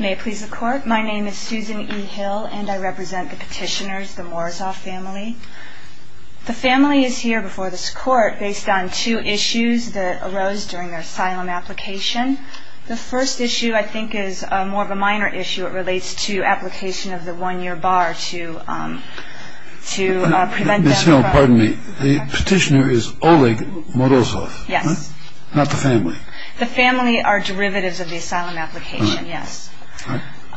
My name is Susan E. Hill and I represent the Petitioners, the Morozov family. The family is here before this court based on two issues that arose during their asylum application. The first issue, I think, is more of a minor issue. It relates to application of the one-year bar to prevent that. Excuse me. The petitioner is Oleg Morozov, not the family. The family are derivatives of the asylum application, yes.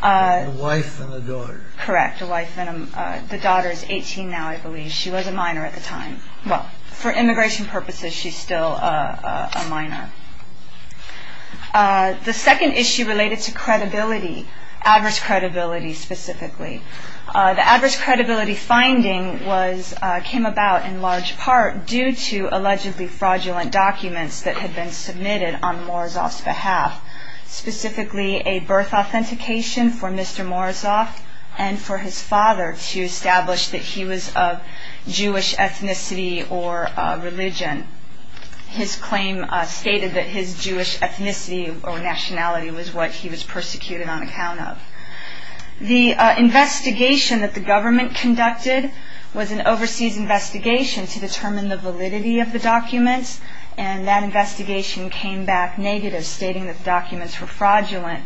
The wife and the daughter. Correct. The wife and the daughter is 18 now, I believe. She was a minor at the time. Well, for immigration purposes, she's still a minor. The second issue related to credibility, adverse credibility specifically. The adverse credibility finding came about in large part due to allegedly fraudulent documents that had been submitted on Morozov's behalf, specifically a birth authentication for Mr. Morozov and for his father to establish that he was of Jewish ethnicity or religion. His claim stated that his Jewish ethnicity or nationality was what he was persecuted on account of. The investigation that the government conducted was an overseas investigation to determine the validity of the documents, and that investigation came back negative, stating that the documents were fraudulent.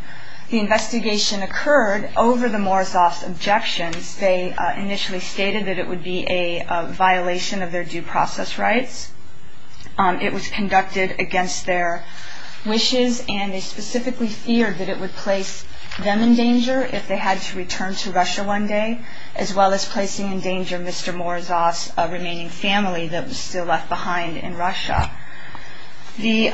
The investigation occurred over the Morozov's objection. They initially stated that it would be a violation of their due process rights. It was conducted against their wishes, and they specifically feared that it would place them in danger if they had to return to Russia one day, as well as placing in danger Mr. Morozov's remaining family that was still left behind in Russia. The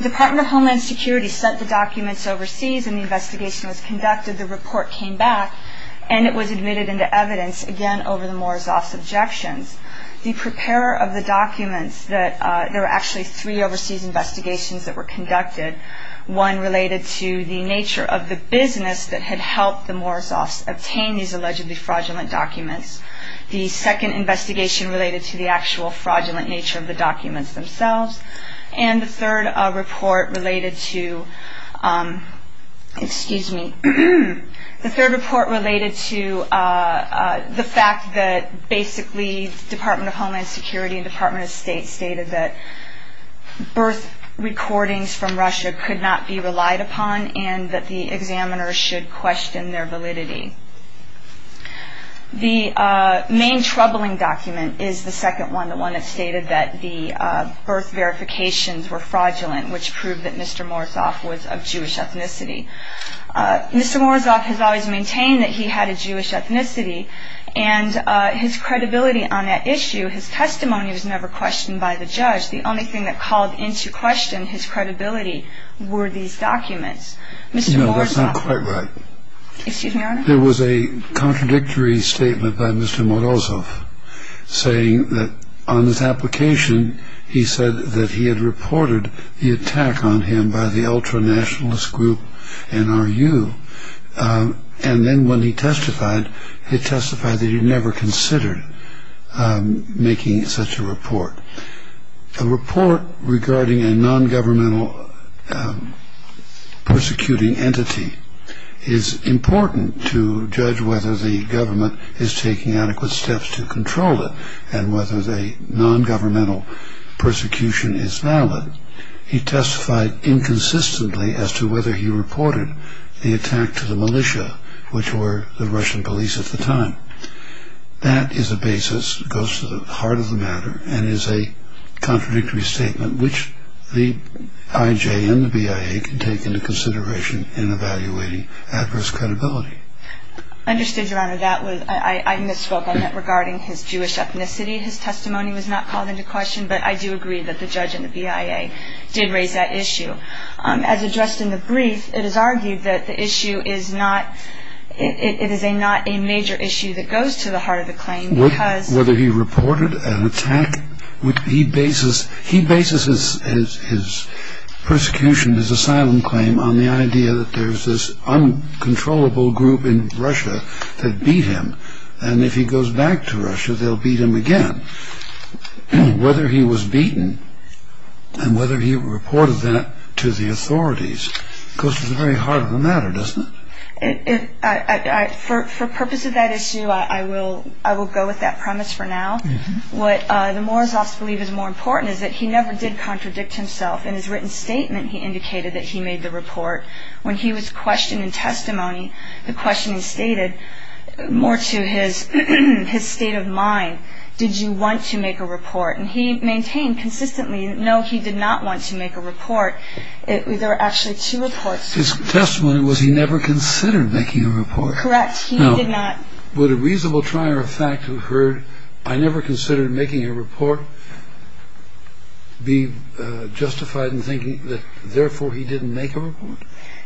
Department of Homeland Security sent the documents overseas, and the investigation was conducted. The report came back, and it was admitted into evidence, again, over the Morozov's objection. The preparer of the documents that there were actually three overseas investigations that were conducted, one related to the nature of the business that had helped the Morozovs obtain these allegedly fraudulent documents, the second investigation related to the actual fraudulent nature of the documents themselves, and the third report related to the fact that basically the Department of Homeland Security and the Department of State stated that birth recordings from Russia could not be relied upon and that the examiners should question their validity. The main troubling document is the second one, the one that stated that the birth verifications were fraudulent, which proved that Mr. Morozov was of Jewish ethnicity. Mr. Morozov has always maintained that he had a Jewish ethnicity, and his credibility on that issue, his testimony was never questioned by the judge. The only thing that called into question his credibility were these documents. No, that's not quite right. There was a contradictory statement by Mr. Morozov saying that on his application, he said that he had reported the attack on him by the ultra-nationalist group NRU, and then when he testified, he testified that he never considered making such a report. A report regarding a non-governmental persecuting entity is important to judge whether the government is taking adequate steps to control it and whether the non-governmental persecution is valid. He testified inconsistently as to whether he reported the attack to the militia, which were the Russian police at the time. That is a basis that goes to the heart of the matter and is a contradictory statement, which the IJ and the BIA can take into consideration in evaluating adverse credibility. I understand, Your Honor, that I misspoke on that regarding his Jewish ethnicity. His testimony was not called into question, but I do agree that the judge and the BIA did raise that issue. As addressed in the brief, it is argued that the issue is not a major issue that goes to the heart of the claim. Whether he reported an attack, he bases his persecution, his asylum claim, on the idea that there's this uncontrollable group in Russia that beat him, and if he goes back to Russia, they'll beat him again. Whether he was beaten and whether he reported that to the authorities goes to the very heart of the matter, doesn't it? For purposes of that issue, I will go with that premise for now. What the Morozov's believe is more important is that he never did contradict himself. In his written statement, he indicated that he made the report. When he was questioned in testimony, the question he stated, more to his state of mind, did you want to make a report? And he maintained consistently, no, he did not want to make a report. There are actually two reports. His testimony was he never considered making a report. Correct. He did not. Would a reasonable trier of fact have heard, I never considered making a report, be justified in thinking that therefore he didn't make a report?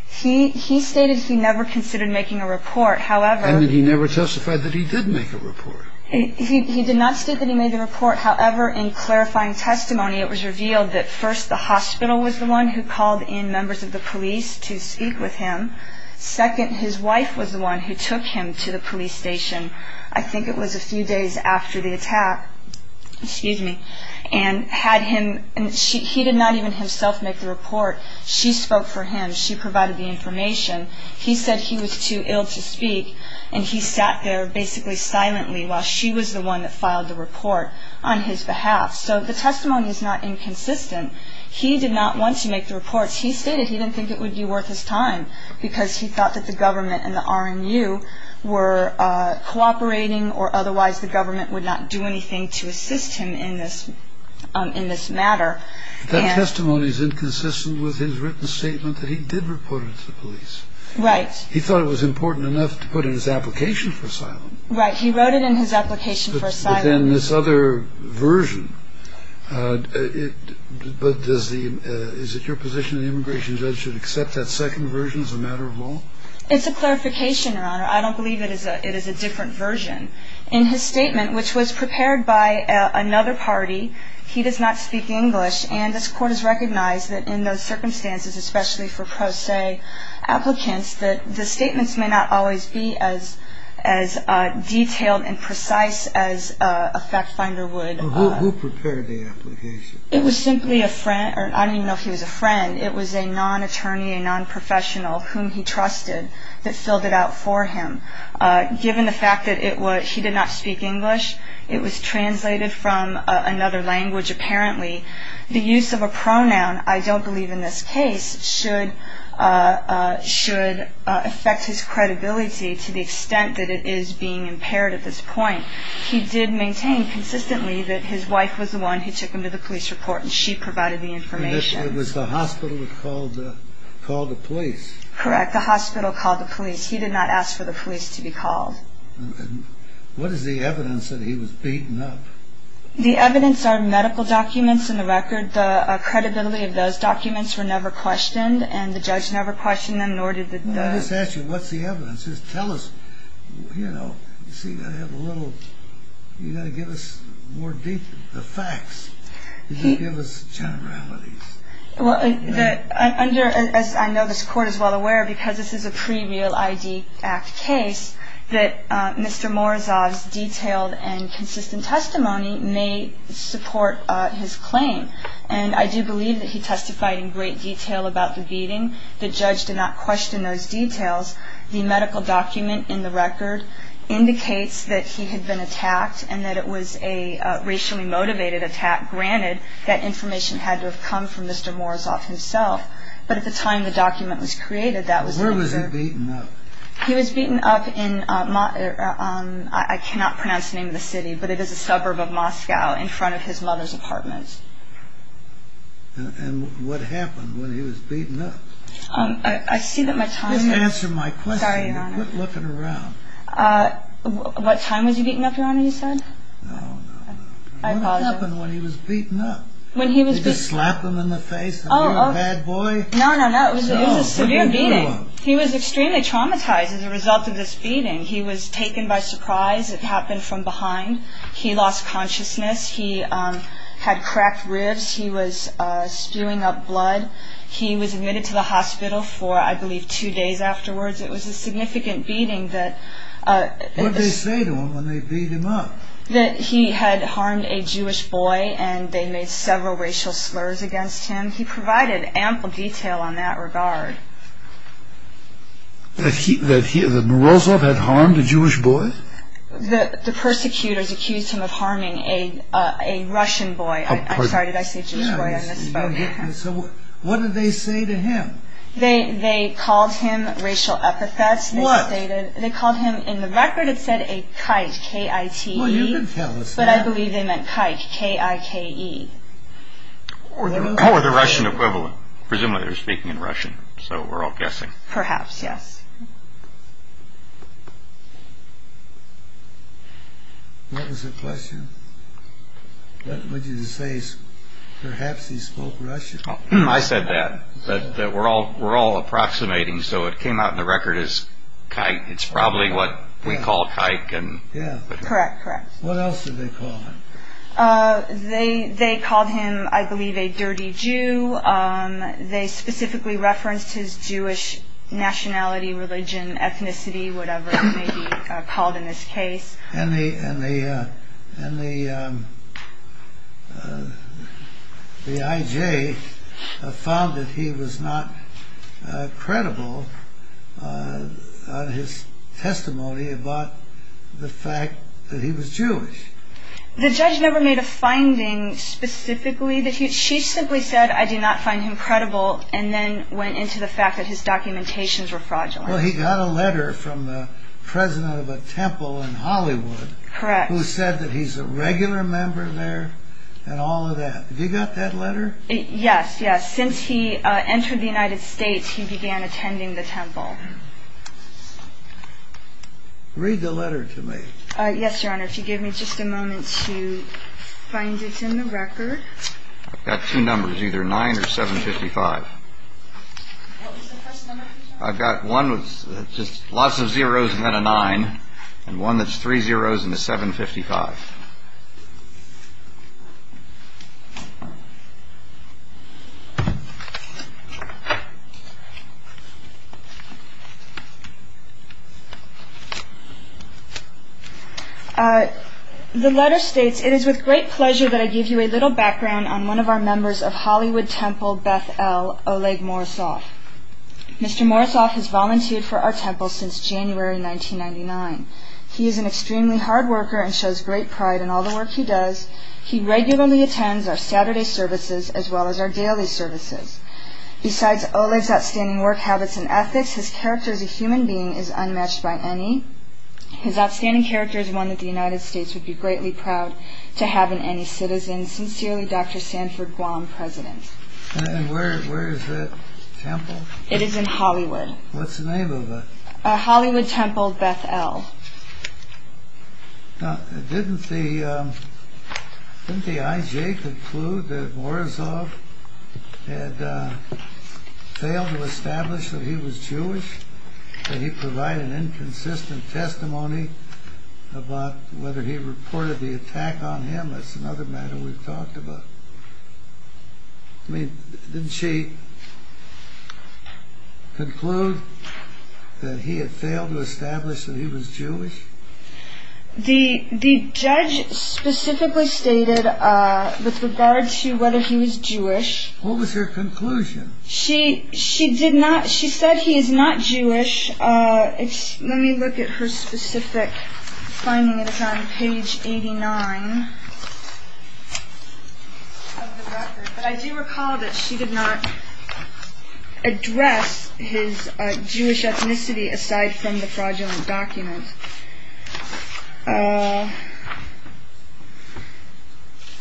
He stated he never considered making a report, however... And that he never testified that he did make a report. He did not state that he made a report, however, in clarifying testimony, it was revealed that first, the hospital was the one who called in members of the police to speak with him. Second, his wife was the one who took him to the police station. I think it was a few days after the attack. Excuse me. And had him, he did not even himself make the report. She spoke for him. She provided the information. He said he was too ill to speak, and he sat there basically silently while she was the one that filed the report on his behalf. So the testimony is not inconsistent. He did not want to make the report. What he stated, he didn't think it would be worth his time, because he thought that the government and the RMU were cooperating or otherwise the government would not do anything to assist him in this matter. That testimony is inconsistent with his written statement that he did report it to the police. Right. He thought it was important enough to put in his application for asylum. Right, he wrote it in his application for asylum. And then this other version, is it your position that immigration judges should accept that second version as a matter of law? It's a clarification, Your Honor. I don't believe it is a different version. In his statement, which was prepared by another party, he does not speak English, and this court has recognized that in those circumstances, especially for pro se applicants, that the statements may not always be as detailed and precise as a fact finder would. Who prepared the application? It was simply a friend, or I don't even know if he was a friend. It was a non-attorney, a non-professional whom he trusted that filled it out for him. Given the fact that he did not speak English, it was translated from another language apparently, the use of a pronoun, I don't believe in this case, should affect his credibility to the extent that it is being impaired at this point. He did maintain consistently that his wife was the one who took him to the police report, and she provided the information. It was the hospital that called the police. Correct, the hospital called the police. He did not ask for the police to be called. What is the evidence that he was beaten up? The evidence are medical documents in the record. The credibility of those documents were never questioned, and the judge never questioned them, nor did the judge. I'm just asking, what's the evidence? Just tell us. You know, you seem to have a little, you know, give us more deep, the facts. You didn't give us generalities. Well, under, as I know this court is well aware, because this is a pre-real ID act case, that Mr. Morozov's detailed and consistent testimony may support his claim, and I do believe that he testified in great detail about the beating. The judge did not question those details. The medical document in the record indicates that he had been attacked, and that it was a racially motivated attack. Granted, that information had to have come from Mr. Morozov himself, but at the time the document was created, that was the case. Where was he beaten up? He was beaten up in, I cannot pronounce the name of the city, but it is a suburb of Moscow in front of his mother's apartment. And what happened when he was beaten up? I see that my time. Just answer my question. Sorry, Your Honor. Quit looking around. What time was he beaten up, Your Honor, you said? I don't know. What happened when he was beaten up? Did you slap him in the face and call him a bad boy? No, no, no. It was a severe beating. He was extremely traumatized as a result of this beating. He was taken by surprise. It happened from behind. He lost consciousness. He had cracked ribs. He was stewing up blood. He was admitted to the hospital for, I believe, two days afterwards. It was a significant beating that... What did they say to him when they beat him up? That he had harmed a Jewish boy, and they made several racial slurs against him. He provided ample detail on that regard. That Mirozov had harmed Jewish boys? The persecutors accused him of harming a Russian boy. I'm sorry, did I say Jewish boy? So what did they say to him? They called him racial epithets. What? They called him, in the record, it said a tyke, K-I-T-E. But I believe they meant tyke, K-I-K-E. Or the Russian equivalent. Presumably they were speaking in Russian, so we're all guessing. Perhaps, yes. What was the question? What did he say? Perhaps he spoke Russian? I said that. We're all approximating, so it came out in the record as tyke. It's probably what we call tyke. Correct, correct. What else did they call him? They called him, I believe, a dirty Jew. They specifically referenced his Jewish nationality, religion, ethnicity, whatever it may be called in this case. And the IJ found that he was not credible on his testimony about the fact that he was Jewish. The judge never made a finding specifically. She simply said, I do not find him credible, and then went into the fact that his documentations were fraudulent. Apparently he got a letter from the president of a temple in Hollywood. Correct. Who said that he's a regular member there and all of that. Have you got that letter? Yes, yes. Since he entered the United States, he began attending the temple. Read the letter to me. Yes, Your Honor. If you give me just a moment to find this in the record. I've got two numbers, either 9 or 755. I've got one with lots of zeros and then a 9, and one that's three zeros and a 755. The letter states, it is with great pleasure that I give you a little background on one of our members of Hollywood Temple, Beth L. Oleg Morozov. Mr. Morozov has volunteered for our temple since January 1999. He is an extremely hard worker and shows great pride in all the work he does. He regularly attends our Saturday services as well as our daily services. Besides Oleg's outstanding work habits and ethics, his character as a human being is unmatched by any. His outstanding character as one of the United States would be greatly proud to have in any citizen. Sincerely, Dr. Sanford Guam, President. And where is that temple? It is in Hollywood. What's the name of it? Hollywood Temple, Beth L. Now, didn't the IJ conclude that Morozov had failed to establish that he was Jewish? That he provided an inconsistent testimony about whether he reported the attack on him? That's another matter we've talked about. Didn't she conclude that he had failed to establish that he was Jewish? The judge specifically stated with regard to whether he was Jewish. What was her conclusion? She said he is not Jewish. Let me look at her specific findings on page 89. But I do recall that she did not address his Jewish ethnicity aside from the fraudulent documents.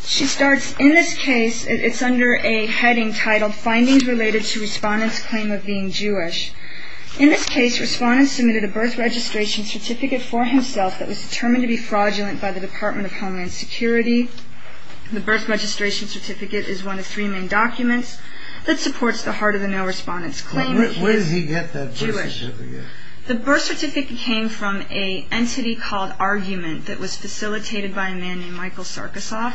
She starts, in this case, it's under a heading titled findings related to respondent's claim of being Jewish. In this case, respondent submitted a birth registration certificate for himself that was determined to be fraudulent by the Department of Homeland Security. The birth registration certificate is one of three main documents that supports the heart of a male respondent's claim. Where did he get that birth certificate? The birth certificate came from an entity called Argument that was facilitated by a man named Michael Sarkisov.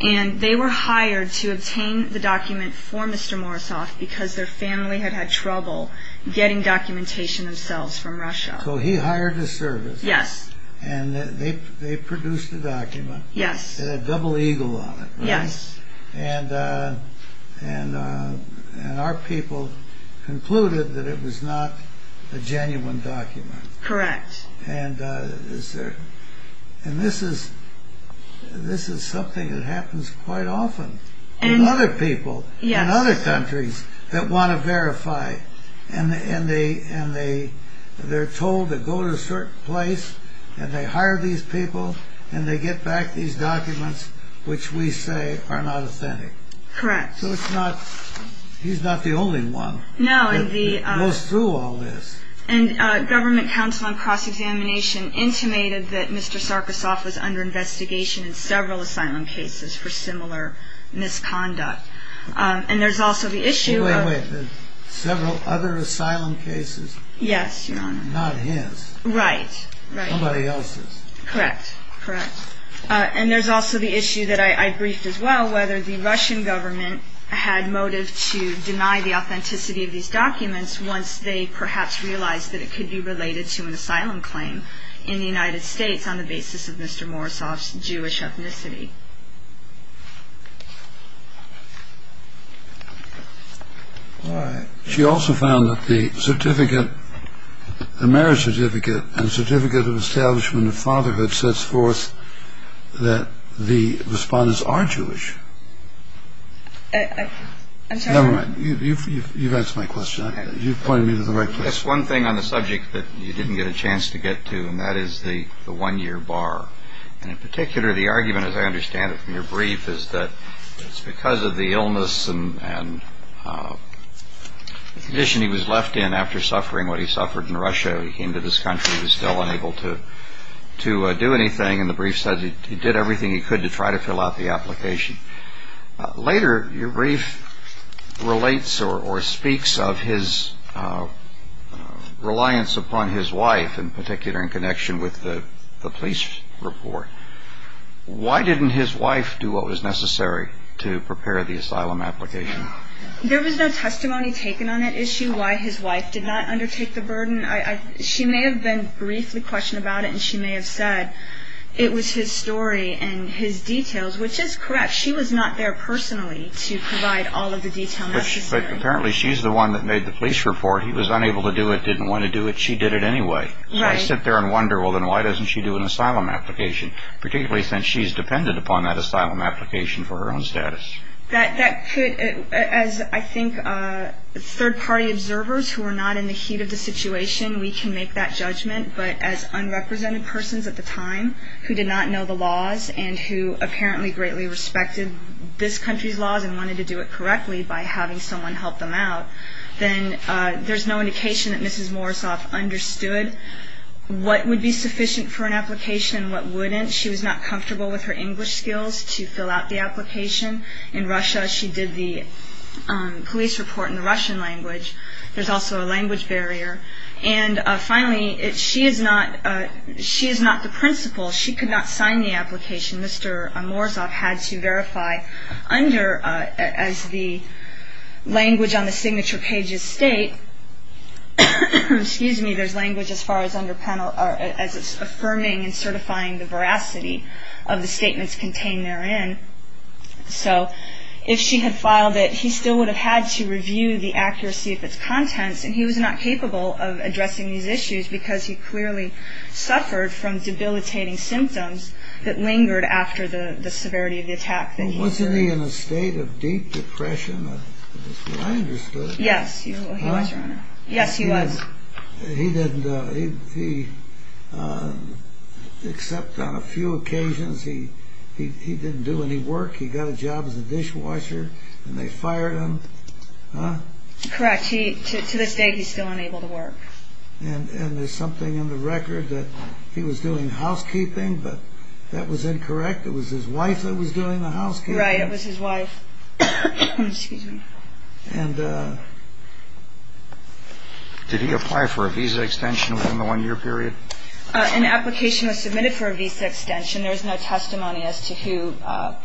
And they were hired to obtain the document for Mr. Morozov because their family had had trouble getting documentation themselves from Russia. So he hired a service. Yes. And they produced the document. Yes. It had a double eagle on it. Yes. And our people concluded that it was not a genuine document. Correct. And this is something that happens quite often in other people, in other countries that want to verify. And they're told to go to a certain place, and they hire these people, and they get back these documents, which we say are not authentic. Correct. So it's not, he's not the only one. No. Who's through all this. And government counsel on cross-examination intimated that Mr. Sarkisov was under investigation in several asylum cases for similar misconduct. And there's also the issue of... Wait, there's several other asylum cases? Yes, Your Honor. Not his. Right, right. Somebody else's. Correct, correct. And there's also the issue that I briefed as well, whether the Russian government had motive to deny the authenticity of these documents once they perhaps realized that it could be related to an asylum claim in the United States on the basis of Mr. Morozov's Jewish ethnicity. Right. She also found that the certificate, the marriage certificate and certificate of establishment of fatherhood sets forth that the responders are Jewish. I'm sorry. Never mind. You've asked my question. Okay. You've pointed me to the right person. Just one thing on the subject that you didn't get a chance to get to, and that is the one-year bar. And in particular, the argument, as I understand it from your brief, is that it's because of the illness and condition he was left in after suffering what he suffered in Russia. He came to this country and was still unable to do anything. And the brief says he did everything he could to try to fill out the application. Later, your brief relates or speaks of his reliance upon his wife, in particular in connection with the police report. Why didn't his wife do what was necessary to prepare the asylum application? There was no testimony taken on the issue why his wife did not undertake the burden. She may have been briefed the question about it, and she may have said it was his story and his details, which is correct. She was not there personally to provide all of the details. But apparently she's the one that made the police report. He was unable to do it, didn't want to do it. She did it anyway. Right. So I sit there and wonder, well, then why doesn't she do an asylum application, particularly since she's dependent upon that asylum application for her own status? That could, as I think third-party observers who are not in the heat of the situation, we can make that judgment. But as unrepresented persons at the time who did not know the laws and who apparently greatly respected this country's laws and wanted to do it correctly by having someone help them out, then there's no indication that Mrs. Morozov understood what would be sufficient for an application and what wouldn't. She was not comfortable with her English skills to fill out the application. In Russia, she did the police report in the Russian language. There's also a language barrier. And finally, she is not the principal. She could not sign the application. Mr. Morozov had to verify under, as the language on the signature pages state, excuse me, there's language as far as affirming and certifying the veracity of the statements contained therein. So if she had filed it, he still would have had to review the accuracy of its contents, and he was not capable of addressing these issues because he clearly suffered from debilitating symptoms that lingered after the severity of the attack. Wasn't he in a state of deep depression? I understood. Yes, he was. He didn't, except on a few occasions, he didn't do any work. He got a job as a dishwasher, and they fired him. Correct. To this day, he's still unable to work. And there's something in the record that he was doing housekeeping, but that was incorrect. It was his wife that was doing the housekeeping. Right, it was his wife. And did he apply for a visa extension within the one-year period? An application was submitted for a visa extension. There's no testimony as to who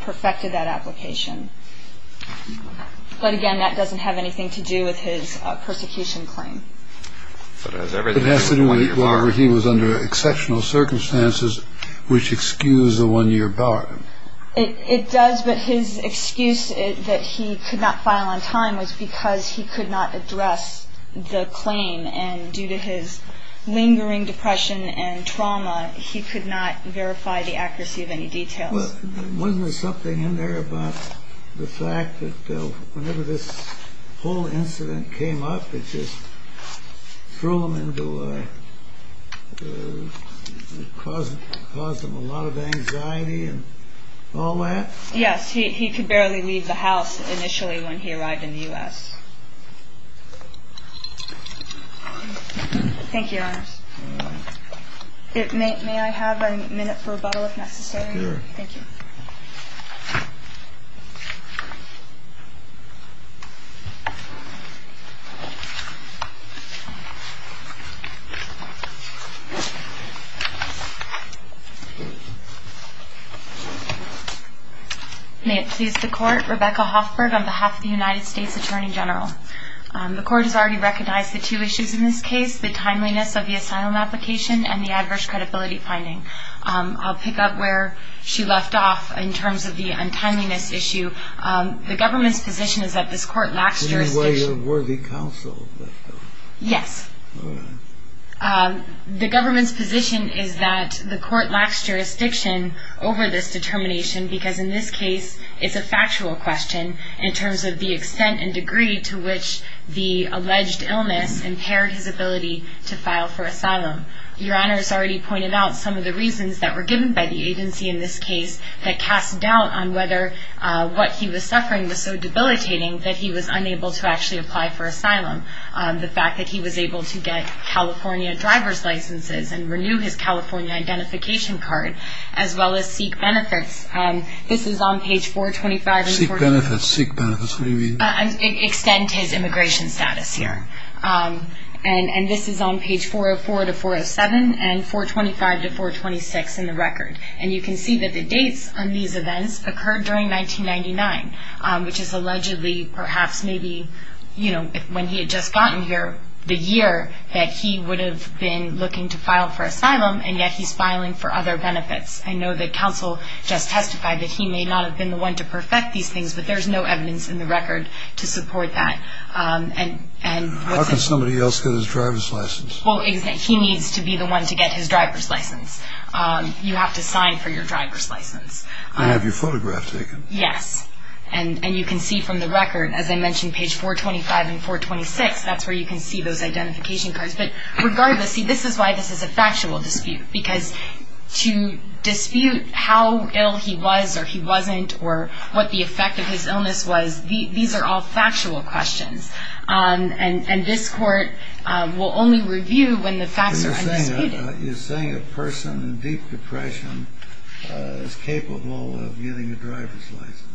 perfected that application. But again, that doesn't have anything to do with his persecution claim. It has to do with the fact that he was under exceptional circumstances, which excuse the one-year bar. It does, but his excuse that he could not file on time was because he could not address the claim, and due to his lingering depression and trauma, he could not verify the accuracy of any details. Wasn't there something in there about the fact that whenever this whole incident came up, it just threw him into a cause of a lot of anxiety and all that? Yes, he could barely leave the house initially when he arrived in the U.S. Thank you, Your Honor. May I have a minute for a bottle, if necessary? Sure. Thank you. May it please the Court, Rebecca Hoffberg on behalf of the United States Attorney General. The Court has already recognized the two issues in this case, the timeliness of the asylum application and the adverse credibility finding. I'll pick up where she left off in terms of the untimeliness issue. The government's position is that this Court lacks jurisdiction. In a way, a worthy counsel. Yes. The government's position is that the Court lacks jurisdiction over this determination because in this case, it's a factual question in terms of the extent and degree to which the alleged illness impaired his ability to file for asylum. Your Honor, it's already pointed out some of the reasons that were given by the agency in this case that cast doubt on whether what he was suffering was so debilitating that he was unable to actually apply for asylum. The fact that he was able to get California driver's licenses and renew his California identification card, as well as seek benefits. This is on page 425. Seek benefits. Extend his immigration status here. And this is on page 404 to 407 and 425 to 426 in the record. And you can see that the dates on these events occurred during 1999, which is allegedly perhaps maybe, you know, when he had just gotten here, the year that he would have been looking to file for asylum, and yet he's filing for other benefits. I know that counsel just testified that he may not have been the one to perfect these things, but there's no evidence in the record to support that. How can somebody else get his driver's license? Well, he needs to be the one to get his driver's license. You have to sign for your driver's license. And have your photograph taken. Yes. And you can see from the record, as I mentioned, page 425 and 426, that's where you can see those identification cards. But regardless, see, this is why this is a factual dispute, because to dispute how ill he was or if he wasn't or what the effect of his illness was, these are all factual questions. And this court will only review when the facts are understood. You're saying a person in deep depression is capable of getting a driver's license.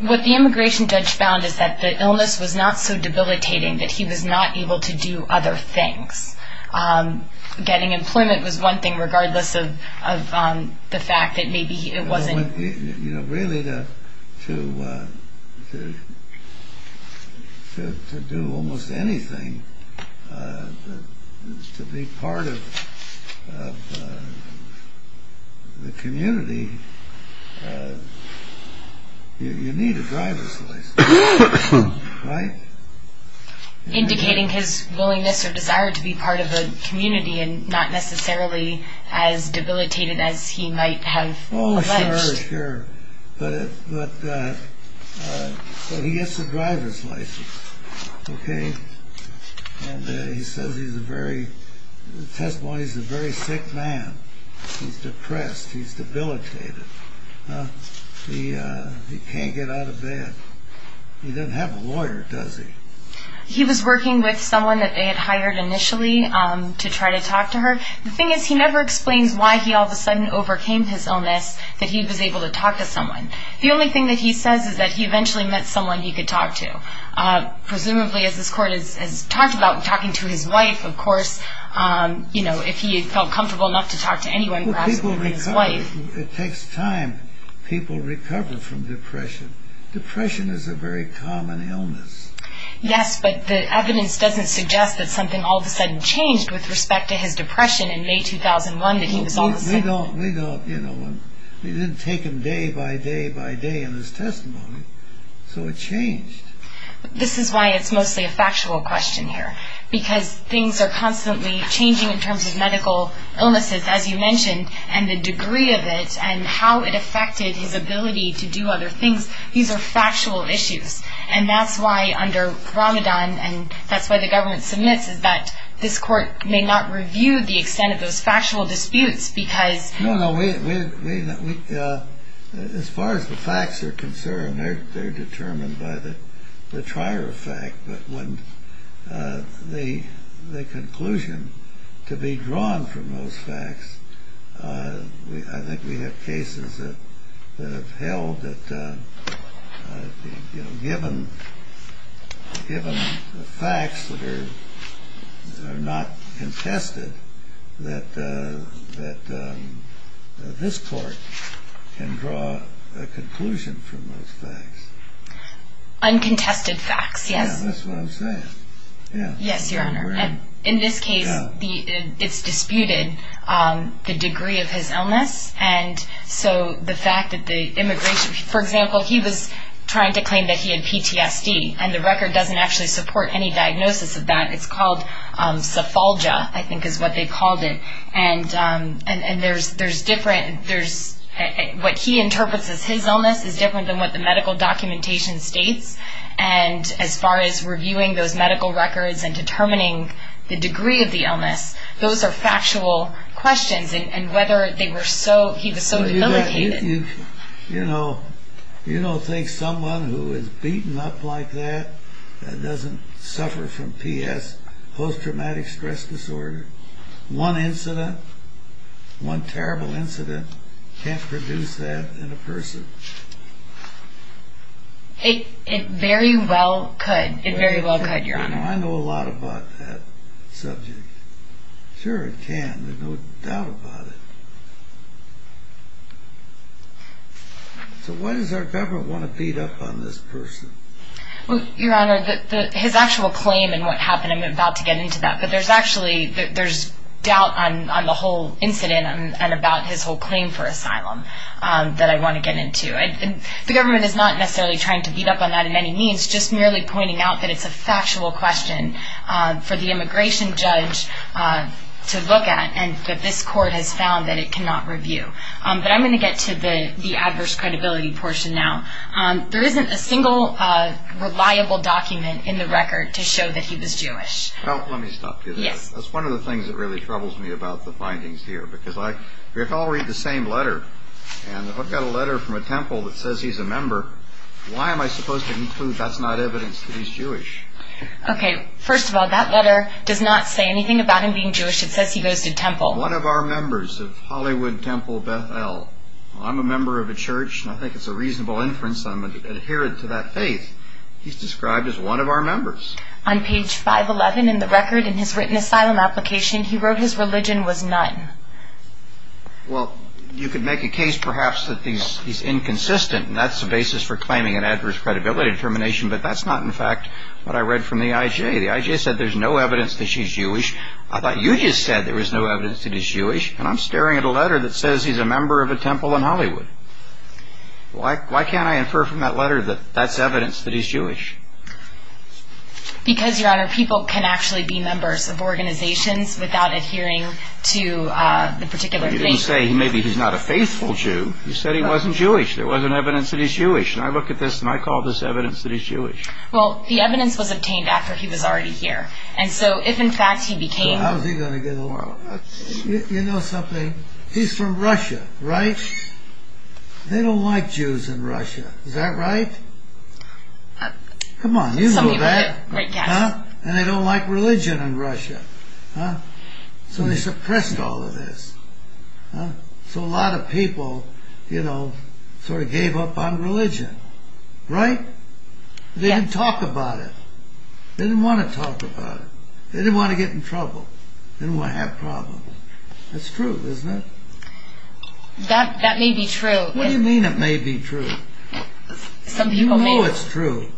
What the immigration judge found is that the illness was not so debilitating that he was not able to do other things. Getting employment was one thing, regardless of the fact that maybe it wasn't. Really, to do almost anything, to be part of the community, you need a driver's license. Right? Indicating his willingness or desire to be part of the community and not necessarily as debilitated as he might have alleged. Oh, sure, sure. But he gets a driver's license, okay? And he says he's a very—his testimony is a very sick man. He's depressed. He's debilitated. He can't get out of bed. He doesn't have a lawyer, does he? He was working with someone that they had hired initially to try to talk to her. The thing is, he never explains why he all of a sudden overcame his illness that he was able to talk to someone. The only thing that he says is that he eventually met someone he could talk to. Presumably, as this court has talked about, talking to his wife, of course, you know, if he felt comfortable enough to talk to anyone. Well, people recover. It takes time. People recover from depression. Depression is a very common illness. Yes, but the evidence doesn't suggest that something all of a sudden changed with respect to his depression in May 2001 that he was all— We don't, you know, we didn't take him day by day by day in his testimony, so it changed. This is why it's mostly a factual question here, because things are constantly changing in terms of medical illnesses, as you mentioned, and the degree of it, and how it affected his ability to do other things. These are factual issues. And that's why under Ramadan, and that's why the government submits, is that this court may not review the extent of those factual disputes, because— No, no, we—as far as the facts are concerned, they're determined by the trier effect, but when the conclusion to be drawn from those facts, I think we have cases that have held that, you know, given the facts that are not contested, that this court can draw a conclusion from those facts. Uncontested facts, yes. Yes, that's what I'm saying. Yes. Yes, Your Honor. In this case, it's disputed the degree of his illness, and so the fact that the immigration— for example, he was trying to claim that he had PTSD, and the record doesn't actually support any diagnosis of that. It's called sephalgia, I think is what they called it. And there's different—what he interprets as his illness is different than what the medical documentation states. And as far as reviewing those medical records and determining the degree of the illness, those are factual questions, and whether they were so—he was so debilitated. You know, you don't think someone who is beaten up like that, that doesn't suffer from PTSD, post-traumatic stress disorder, one incident, one terrible incident, can't produce that in a person. It very well could. It very well could, Your Honor. I know a lot about that subject. Sure it can. There's no doubt about it. So why does our government want to beat up on this person? Well, Your Honor, his actual claim and what happened, I'm about to get into that, but there's actually—there's doubt on the whole incident and about his whole claim for asylum that I want to get into. The government is not necessarily trying to beat up on that in any means, just merely pointing out that it's a factual question for the immigration judge to look at, and that this court has found that it cannot review. But I'm going to get to the adverse credibility portion now. There isn't a single reliable document in the record to show that he was Jewish. Ralph, let me stop you there. That's one of the things that really troubles me about the findings here, because you can all read the same letter, and if I've got a letter from a temple that says he's a member, why am I supposed to conclude that's not evidence that he's Jewish? Okay. First of all, that letter does not say anything about him being Jewish. It says he goes to a temple. One of our members of Hollywood Temple Beth-El. I'm a member of a church, and I think it's a reasonable inference. I'm an adherent to that faith. He's described as one of our members. On page 511 in the record in his written asylum application, he wrote his religion was none. Well, you could make a case perhaps that he's inconsistent, and that's the basis for claiming an adverse credibility determination, but that's not, in fact, what I read from the IJ. The IJ said there's no evidence that he's Jewish. I thought you just said there was no evidence that he's Jewish, and I'm staring at a letter that says he's a member of a temple in Hollywood. Why can't I infer from that letter that that's evidence that he's Jewish? Because, Your Honor, people can actually be members of organizations without adhering to the particular faith. You didn't say maybe he's not a faithful Jew. You said he wasn't Jewish. There wasn't evidence that he's Jewish. And I look at this, and I call this evidence that he's Jewish. Well, the evidence was obtained after he was already here, and so if, in fact, he became... How is he going to get along? You know something? He's from Russia, right? They don't like Jews in Russia. Is that right? Come on. You know that. And they don't like religion in Russia. So they suppressed all of this. So a lot of people, you know, sort of gave up on religion. Right? They didn't talk about it. They didn't want to talk about it. They didn't want to get in trouble. They didn't want to have problems. That's true, isn't it? That may be true. What do you mean it may be true? Some people may... You know it's true.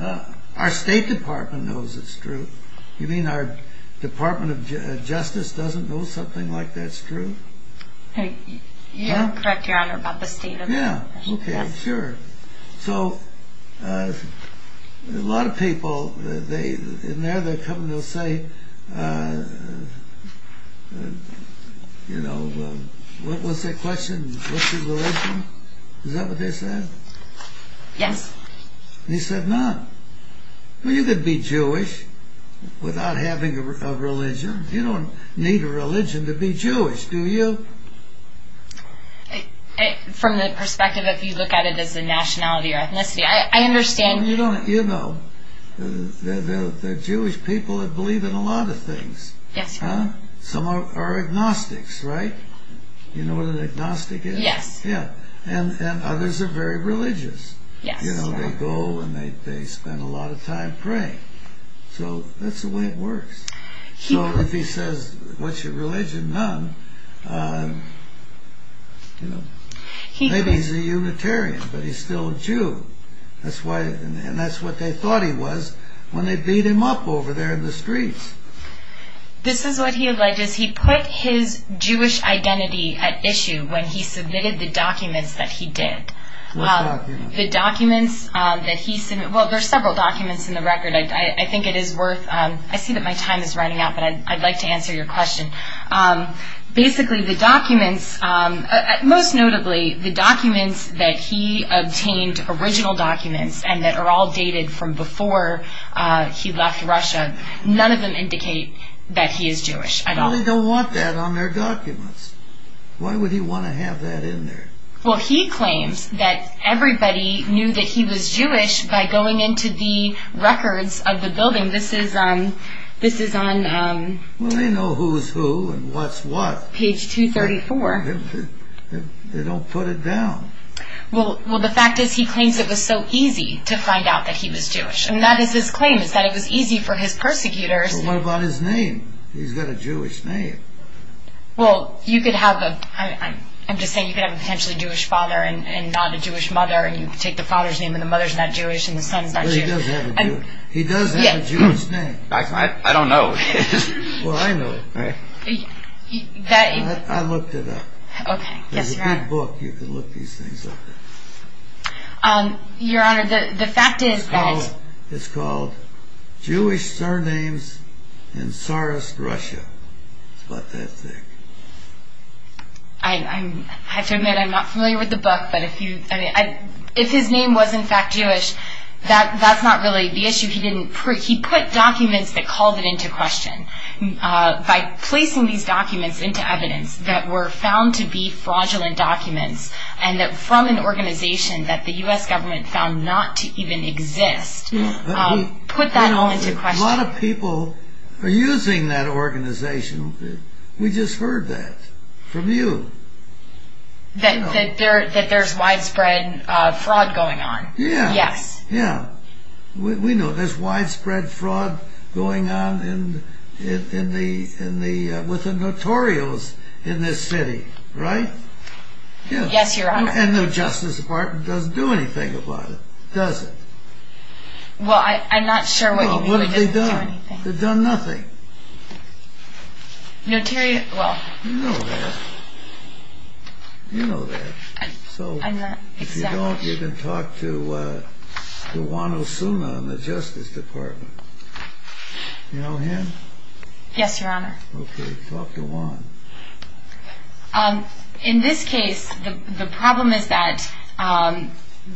Our State Department knows it's true. You mean our Department of Justice doesn't know something like that's true? You don't correct your honor about the State Department. Yeah. Okay. I'm sure. So a lot of people in there, they'll come and they'll say, you know, what's that question? What's the religion? Is that what they said? Yes. They said no. You can be Jewish without having a religion. You don't need a religion to be Jewish, do you? From the perspective that you look at it as a nationality or ethnicity, I understand... You know, there are Jewish people that believe in a lot of things. Yes. Some are agnostics, right? You know what an agnostic is? Yes. Yeah. And others are very religious. Yes. You know, they go and they spend a lot of time praying. So that's the way it works. So if he says, what's your religion? None. You know, maybe he's a Unitarian, but he's still a Jew. And that's what they thought he was when they beat him up over there in the streets. This is what he alleges. He put his Jewish identity at issue when he submitted the documents that he did. What documents? The documents that he submitted. Well, there's several documents in the record. I think it is worth... I see that my time is running out, but I'd like to answer your question. Basically, the documents... Most notably, the documents that he obtained, original documents, and that are all dated from before he left Russia, none of them indicate that he is Jewish. No, they don't want that on their documents. Why would he want to have that in there? Well, he claims that everybody knew that he was Jewish by going into the records of the building. This is on... Well, they know who's who and what's what. Page 234. They don't put it down. Well, the fact is he claims it was so easy to find out that he was Jewish. And that is his claim, that it was easy for his persecutors... But what about his name? He's got a Jewish name. Well, you could have a... I'm just saying you could have a potentially Jewish father and not a Jewish mother, and you could take the father's name and the mother's not Jewish, and you're talking about Jews. He does have a Jewish name. I don't know. Well, I know it. I looked it up. There's a good book. You can look these things up. Your Honor, the fact is that... It's called Jewish Surnames in Tsarist Russia. Let that sit. I have to admit I'm not familiar with the book, but if his name was in fact Jewish, that's not really the issue. He put documents that called it into question. By placing these documents into evidence that were found to be fraudulent documents, and that from an organization that the U.S. government found not to even exist, put that all into question. A lot of people are using that organization. We just heard that from you. That there's widespread fraud going on. Yes. Yes. We know there's widespread fraud going on with the notorials in this city, right? Yes. Yes, Your Honor. And the Justice Department doesn't do anything about it, does it? Well, I'm not sure... Well, what have they done? They've done nothing. No, period. You know that. You know that. So, if you don't, you can talk to Juan Osuna in the Justice Department. You know him? Yes, Your Honor. Okay, talk to Juan. In this case, the problem is that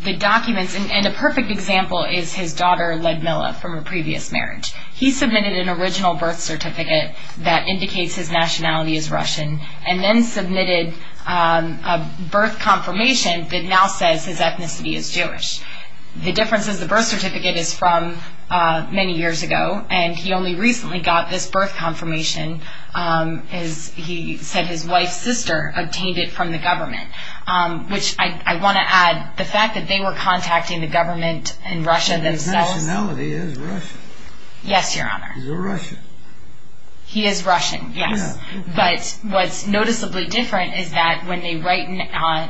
the documents... and a perfect example is his daughter, Ledmilla, from a previous marriage. He submitted an original birth certificate that indicates his nationality is Russian, and then submitted a birth confirmation that now says his ethnicity is Jewish. The difference is the birth certificate is from many years ago, and he only recently got this birth confirmation. He said his wife's sister obtained it from the government, which I want to add the fact that they were contacting the government in Russia. His nationality is Russian. Yes, Your Honor. He's a Russian. He is Russian, yes. But what's noticeably different is that when they write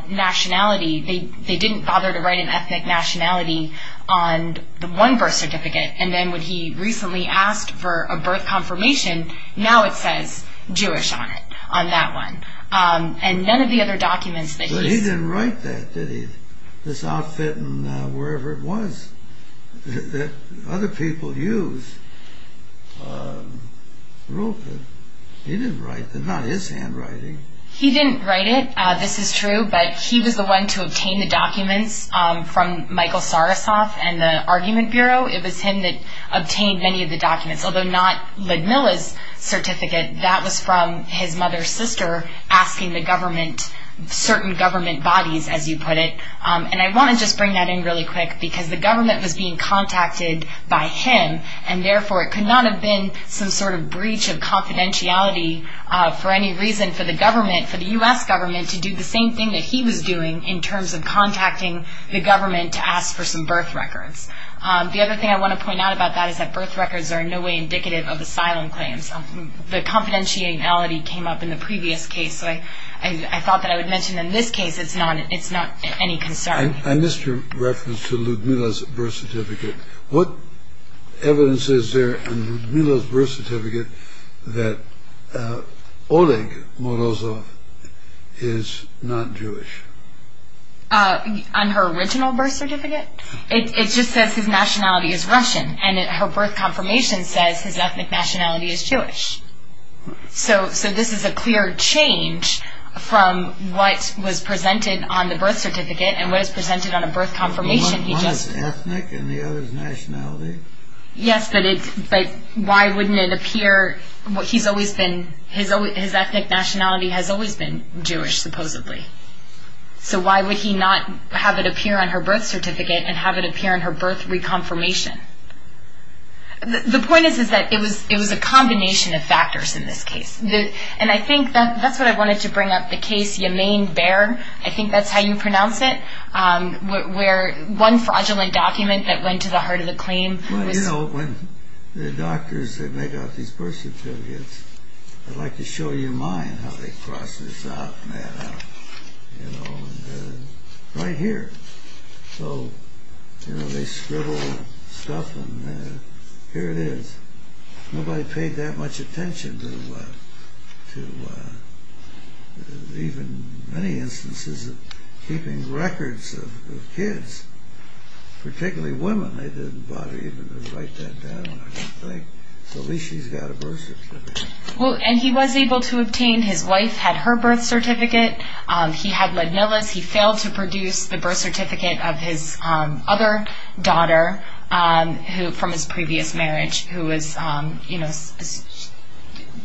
nationality, they didn't bother to write an ethnic nationality on the one birth certificate, and then when he recently asked for a birth confirmation, now it says Jewish on it, on that one. And none of the other documents that he... He didn't write that, did he? This outfit and wherever it was that other people used, wrote this. He didn't write this. It's not his handwriting. He didn't write it. This is true. But he was the one to obtain the documents from Michael Sarasoff and the Argument Bureau. It was him that obtained many of the documents, although not Lyudmila's certificate. That was from his mother's sister asking the government, certain government bodies, as you put it. And I want to just bring that in really quick because the government was being contacted by him, and therefore it could not have been some sort of breach of confidentiality for any reason for the government, for the U.S. government to do the same thing that he was doing in terms of contacting the government to ask for some birth records. The other thing I want to point out about that is that birth records are in no way indicative of asylum claims. The confidentiality came up in the previous case, so I thought that I would mention in this case it's not any concern. I missed your reference to Lyudmila's birth certificate. What evidence is there in Lyudmila's birth certificate that Oleg Morozov is not Jewish? On her original birth certificate? It just says his nationality is Russian, and her birth confirmation says his ethnic nationality is Jewish. So this is a clear change from what was presented on the birth certificate and what is presented on a birth confirmation. One is ethnic and the other is nationality? Yes, but why wouldn't it appear? His ethnic nationality has always been Jewish, supposedly. So why would he not have it appear on her birth certificate and have it appear on her birth reconfirmation? The point is that it was a combination of factors in this case. And I think that's what I wanted to bring up, the case Yemane-Behr, I think that's how you pronounce it, where one fraudulent document that went to the heart of the claim. Well, you know, when the doctors get made out these birth certificates, I'd like to show you mine, how they cross this out and that out. You know, right here. So, you know, they scribble stuff on there. Here it is. Nobody paid that much attention to even many instances of keeping records of kids, particularly women. They didn't bother even to write that down. At least she's got a birth certificate. Well, and he was able to obtain, his wife had her birth certificate. He had Lenella's. He failed to produce the birth certificate of his other daughter from his previous marriage, who was, you know,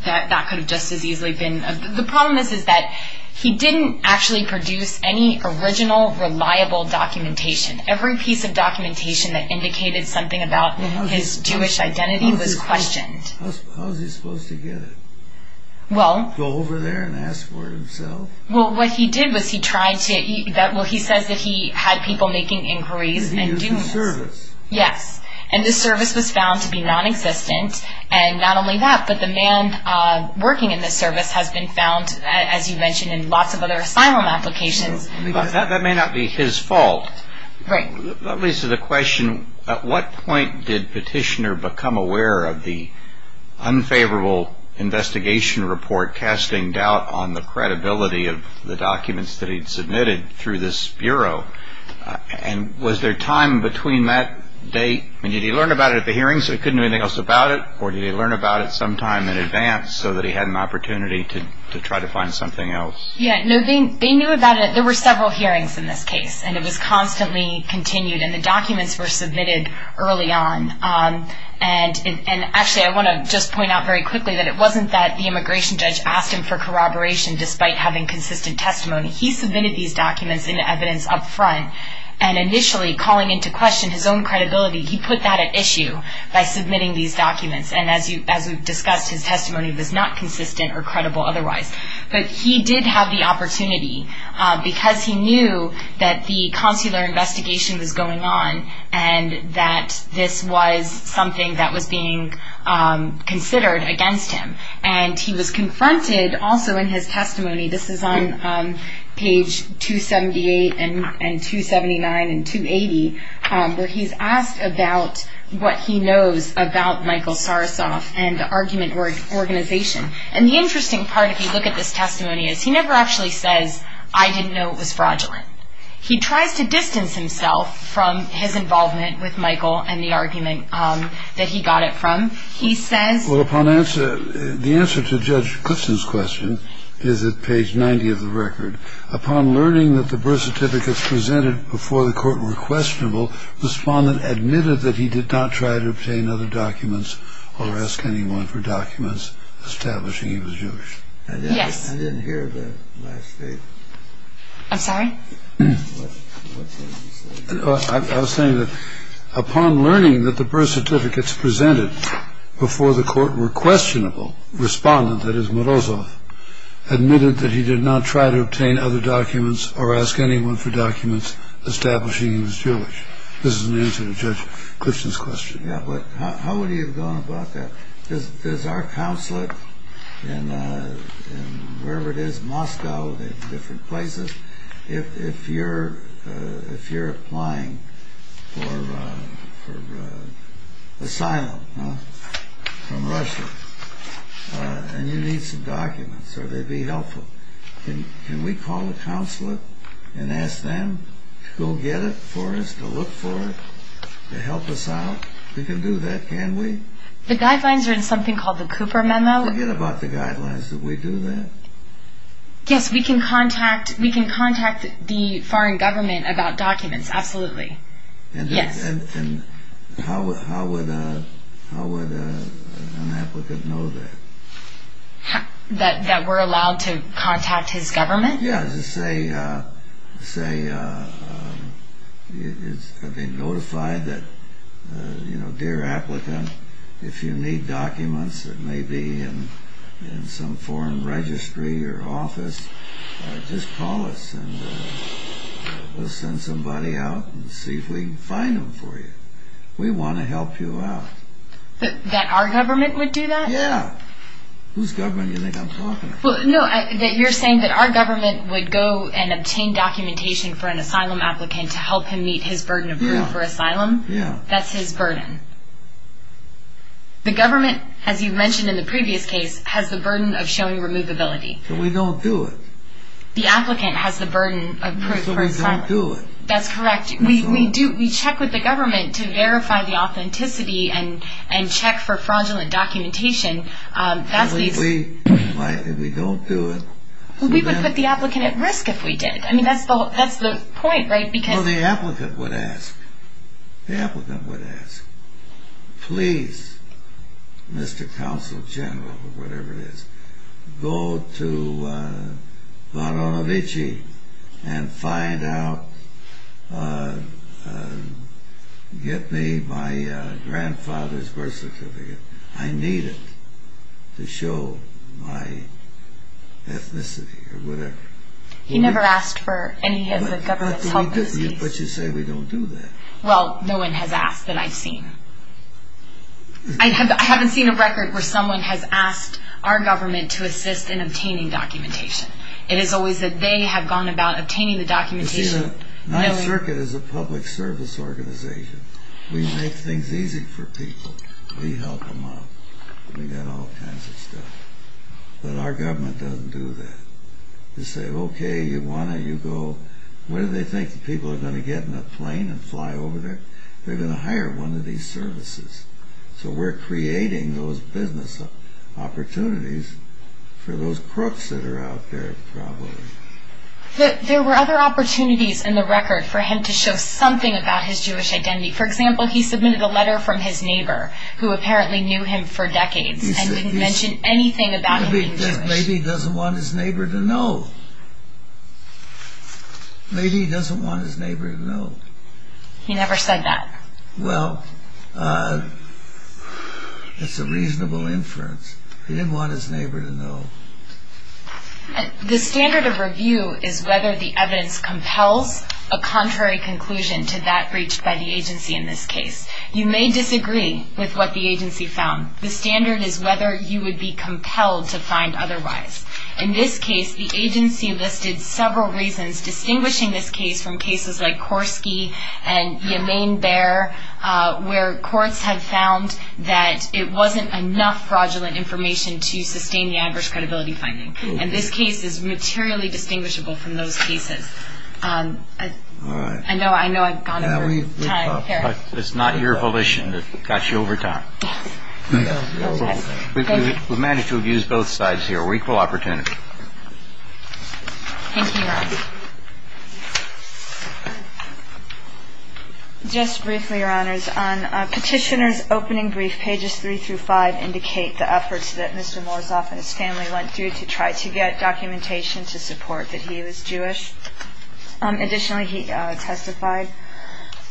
that could have just as easily been. The problem is that he didn't actually produce any original, reliable documentation. Every piece of documentation that indicated something about his Jewish identity was questioned. How was he supposed to get it? Go over there and ask for it himself? Well, what he did was he tried to, well, he said that he had people making inquiries. Did he use the service? Yes. And the service was found to be non-existent. And not only that, but the man working in the service has been found, as you mentioned, in lots of other asylum applications. That may not be his fault. That leads to the question, at what point did Petitioner become aware of the unfavorable investigation report casting doubt on the credibility of the documents that he'd submitted through this bureau? And was there time between that date, and did he learn about it at the hearing so he couldn't do anything else about it, or did he learn about it sometime in advance so that he had an opportunity to try to find something else? Yes. No, they knew about it. There were several hearings in this case, and it was constantly continued. And the documents were submitted early on. And actually, I want to just point out very quickly that it wasn't that the immigration judge asked him for corroboration despite having consistent testimony. He submitted these documents in evidence up front, and initially, calling into question his own credibility, he put that at issue by submitting these documents. And as we've discussed, his testimony was not consistent or credible otherwise. But he did have the opportunity because he knew that the consular investigation was going on and that this was something that was being considered against him. And he was confronted also in his testimony, this is on page 278 and 279 and 280, where he's asked about what he knows about Michael Sarasoff and the Argument Organization. And the interesting part, if you look at this testimony, is he never actually says, I didn't know it was fraudulent. He tried to distance himself from his involvement with Michael and the argument that he got it from. He said, Well, the answer to Judge Clipson's question is at page 90 of the record. Upon learning that the birth certificates presented before the court were questionable, the respondent admitted that he did not try to obtain other documents or ask anyone for documents establishing he was Jewish. I didn't hear the last page. I'm sorry. I was saying that upon learning that the birth certificates presented before the court were questionable, the respondent, that is Morozov, admitted that he did not try to obtain other documents or ask anyone for documents establishing he was Jewish. This is an answer to Judge Clipson's question. Yeah, but how would he have gone about that? Does our consulate in wherever it is, Moscow, different places, if you're applying for asylum from Russia, and you need some documents or they'd be helpful, can we call the consulate and ask them to go get it for us, to look for it, to help us out? We can do that, can't we? The guidelines are in something called the Cooper Memo. Forget about the guidelines. Do we do that? Yes, we can contact the foreign government about documents, absolutely. And how would an applicant know that? That we're allowed to contact his government? Yeah, just say you've been notified that, you know, dear applicant, if you need documents, it may be in some foreign registry or office, just call us and we'll send somebody out and see if we can find them for you. We want to help you out. That our government would do that? Yeah. Whose government do you think I'm talking about? Well, no, you're saying that our government would go and obtain documentation for an asylum applicant to help him meet his burden of proof for asylum? Yeah. That's his burden. The government, as you mentioned in the previous case, has the burden of showing removability. So we don't do it. The applicant has the burden of proof. So we don't do it. That's correct. We check with the government to verify the authenticity and check for fraudulent documentation. If we don't do it. We would put the applicant at risk if we did. I mean, that's the point, right? Well, the applicant would ask. The applicant would ask. Please, Mr. Counsel General, or whatever it is, go to Baronovitchi and find out, get me my grandfather's birth certificate. I need it to show my ethnicity or whatever. He never asked for any of the government's help. But you say we don't do that. Well, no one has asked that I've seen. I haven't seen a record where someone has asked our government to assist in obtaining documentation. It is always that they have gone about obtaining the documentation. My circuit is a public service organization. We make things easy for people. We help them out. We've got all kinds of stuff. But our government doesn't do that. They say, okay, you want to, you go. What do they think, people are going to get in a plane and fly over there? They're going to hire one of these services. So we're creating those business opportunities for those crooks that are out there probably. There were other opportunities in the record for him to show something about his Jewish identity. For example, he submitted a letter from his neighbor who apparently knew him for decades and didn't mention anything about his Jewish identity. Maybe he doesn't want his neighbor to know. Maybe he doesn't want his neighbor to know. He never said that. Well, it's a reasonable inference. He didn't want his neighbor to know. The standard of review is whether the evidence compels a contrary conclusion to that reached by the agency in this case. You may disagree with what the agency found. The standard is whether you would be compelled to find otherwise. In this case, the agency listed several reasons distinguishing this case from cases like Korsky and Yemane Bear, where courts have found that it wasn't enough fraudulent information to sustain the average credibility finding. And this case is materially distinguishable from those cases. I know I've gone over. It's not your volition. It got you over time. We've managed to abuse both sides here. We're equal opportunity. Thank you. Just briefly, Your Honors, Petitioner's opening brief, pages three through five, indicate the efforts that Mr. Morozov and his family went through to try to get documentation to support that he was Jewish. Additionally, he testified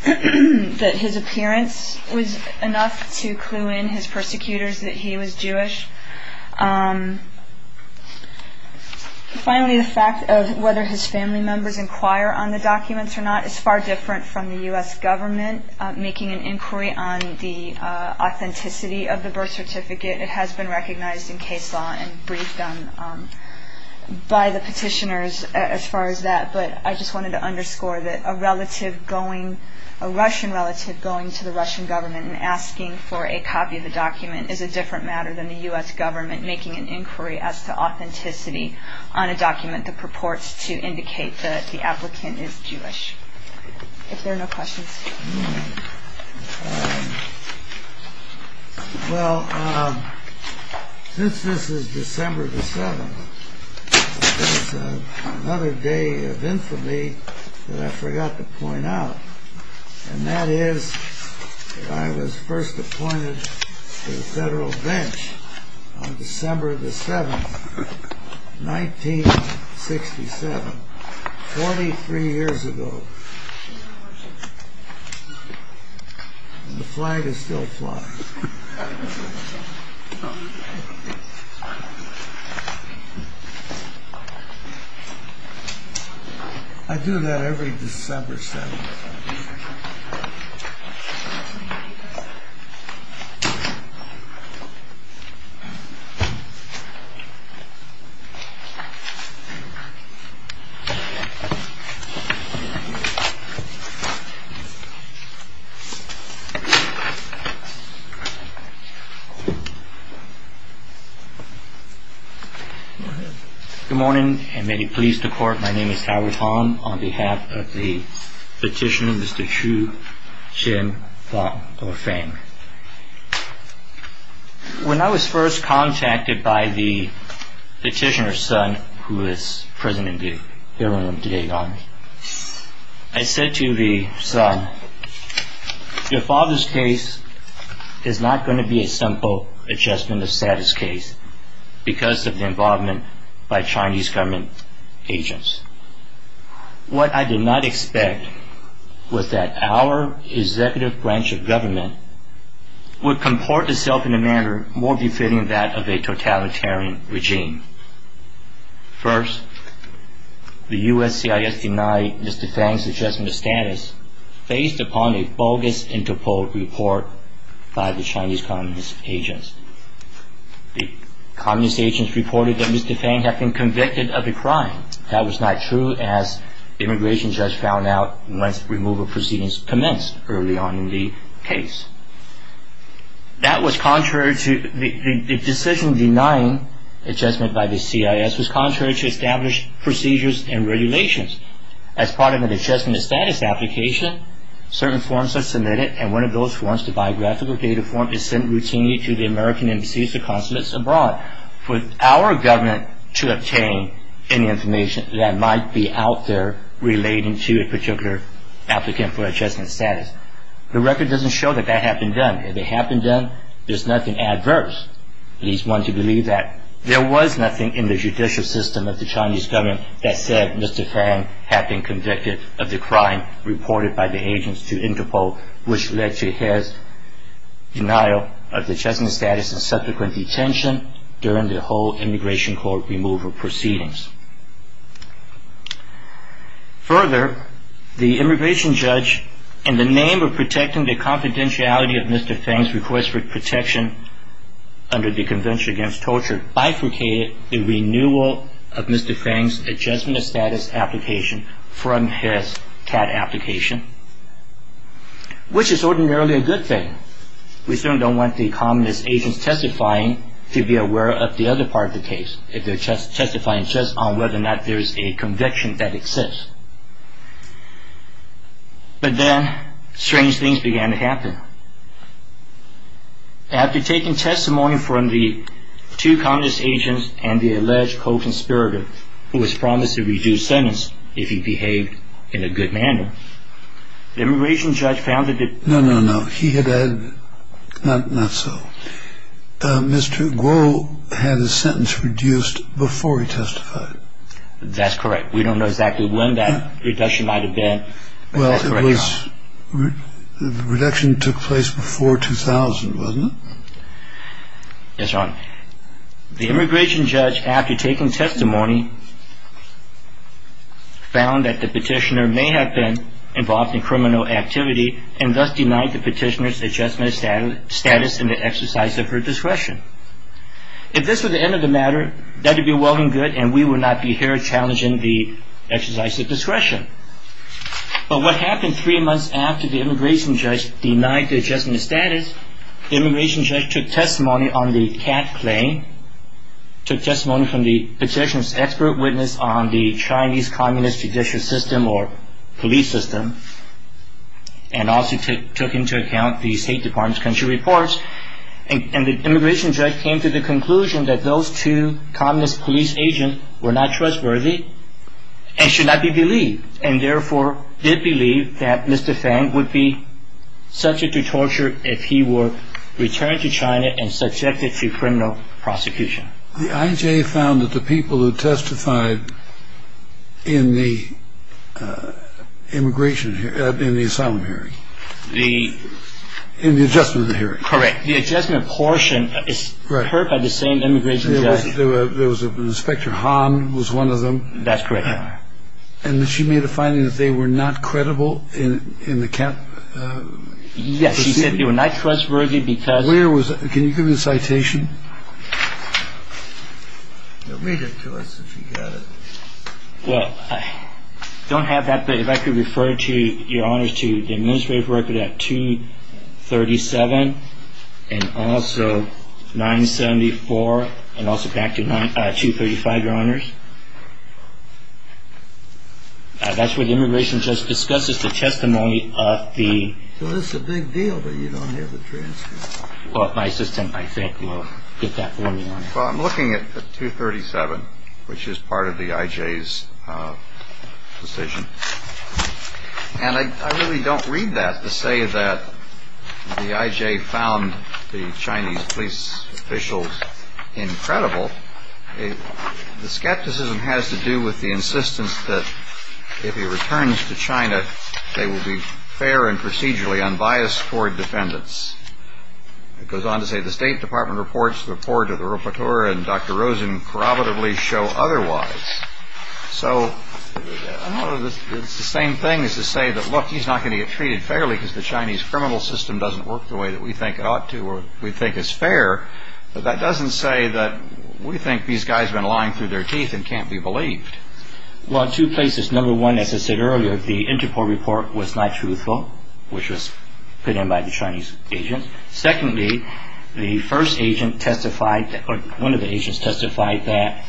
that his appearance was enough to clue in his persecutors that he was Jewish. Finally, the fact of whether his family members inquire on the documents or not is far different from the U.S. government. Making an inquiry on the authenticity of the birth certificate has been recognized in case law and briefed on by the petitioners as far as that. But I just wanted to underscore that a relative going, a Russian relative going to the Russian government and asking for a copy of the document is a different matter than the U.S. government making an inquiry as to authenticity on a document that purports to indicate that the applicant is Jewish. If there are no questions. Well, since this is December the 7th, it's another day of infamy that I forgot to point out. And that is that I was first appointed to the federal bench on December the 7th, 1967. Forty-three years ago. The flag is still flying. I do that every December 7th. I do that every December 7th. Good morning, and may it please the court, my name is Howard Holland on behalf of the petitioner Mr. Jim Fang. When I was first contacted by the petitioner's son, who is present in the room today, I said to the son, your father's case is not going to be a simple adjustment of status case because of the involvement by Chinese government agents. What I did not expect was that our executive branch of government would comport itself in a manner more befitting that of a totalitarian regime. First, the U.S. CIA denied Mr. Fang's adjustment of status based upon a decision that was made by the U.S. CIA in the August Interpol report by the Chinese government agents. The Chinese government agents reported that Mr. Fang had been convicted of a crime. That was not true, as the immigration judge found out when the removal proceedings commenced early on in the case. The decision denying adjustment by the CIA was contrary to established procedures and regulations. As part of an adjustment of status application, certain forms are submitted, and one of those forms, the biographical data form, is sent routinely to the American embassies and consulates abroad for our government to obtain any information that might be out there relating to a particular applicant for adjustment of status. The record doesn't show that that had been done. If it had been done, there's nothing adverse. At least one can believe that. There was nothing in the judicial system of the Chinese government that said Mr. Fang had been convicted of the crime reported by the agents to Interpol, which led to his denial of adjustment of status and subsequent detention during the whole immigration court removal proceedings. Further, the immigration judge, in the name of protecting the confidentiality of Mr. Fang's request for protection under the Convention Against Torture, bifurcated the renewal of Mr. Fang's adjustment of status application from his TAT application, which is ordinarily a good thing. We certainly don't want the communist agents testifying to be aware of the other part of the case. They're testifying just on whether or not there is a conviction that exists. But then strange things began to happen. After taking testimony from the two communist agents and the alleged co-conspirator, who was promised a reduced sentence if he behaved in a good manner, the immigration judge found that the- No, no, no. He had added, not so. Mr. Guo had his sentence reduced before he testified. That's correct. We don't know exactly when that reduction might have been. Well, the reduction took place before 2000, wasn't it? Yes, Your Honor. The immigration judge, after taking testimony, found that the petitioner may have been involved in criminal activity and thus denied the petitioner's adjustment of status in the exercise of her discretion. If this was the end of the matter, that would be well and good, and we would not be here challenging the exercise of discretion. But what happened three months after the immigration judge denied the adjustment of status, the immigration judge took testimony on the TAT claim, took testimony from the petitioner's expert witness on the Chinese communist judicial system or police system, and also took into account the State Department's country reports, and the immigration judge came to the conclusion that those two communist police agents were not trustworthy and should not be believed, and therefore did believe that Mr. Fang would be subject to torture if he were returned to China and subjected to criminal prosecution. The IJA found that the people who testified in the asylum hearing, in the adjustment of the hearing. Correct. The adjustment portion occurred by the same immigration judge. There was an inspector. Han was one of them. That's correct, Your Honor. And she made a finding that they were not credible in the count? Yes, she said they were not trustworthy because... Where was it? Can you give me the citation? Read it to us if you've got it. Well, I don't have that, but if I could refer to, Your Honors, to the administrative record at 237, and also 974, and also back to 235, Your Honors. That's where the immigration judge discussed the testimony of the... Well, that's a big deal that you don't have a transcript. Well, my assistant, I think, will get that for you, Your Honor. So I'm looking at 237, which is part of the IJA's decision. And I really don't read that to say that the IJA found the Chinese police officials incredible. The skepticism has to do with the insistence that if he returns to China, they will be fair and procedurally unbiased toward defendants. It goes on to say the State Department reports the report of the rapporteur and Dr. Rosen corroboratively show otherwise. So I don't know if it's the same thing as to say that, look, he's not going to get treated fairly because the Chinese criminal system doesn't work the way that we think it ought to or we think is fair. But that doesn't say that we think these guys have been lying through their teeth and can't be believed. Well, two places. Number one, as I said earlier, the Interpol report was not truthful, which was put in by the Chinese agent. Secondly, the first agent testified or one of the agents testified that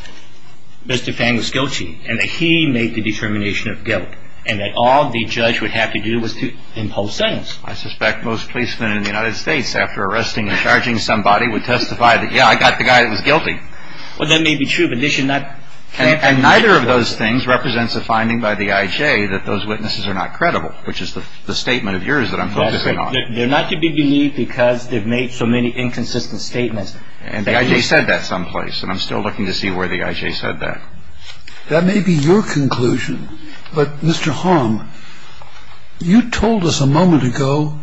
Mr. Fang was guilty and that he made the determination of guilt and that all the judge would have to do was to impose sentence. I suspect most policemen in the United States, after arresting and charging somebody, would testify that, yeah, I got the guy that was guilty. Well, that may be true, but this should not... And neither of those things represents a finding by the IJ that those witnesses are not credible, which is the statement of yours that I'm focusing on. They're not to be believed because they've made so many inconsistent statements. And the IJ said that someplace, and I'm still looking to see where the IJ said that. That may be your conclusion, but, Mr. Hom, you told us a moment ago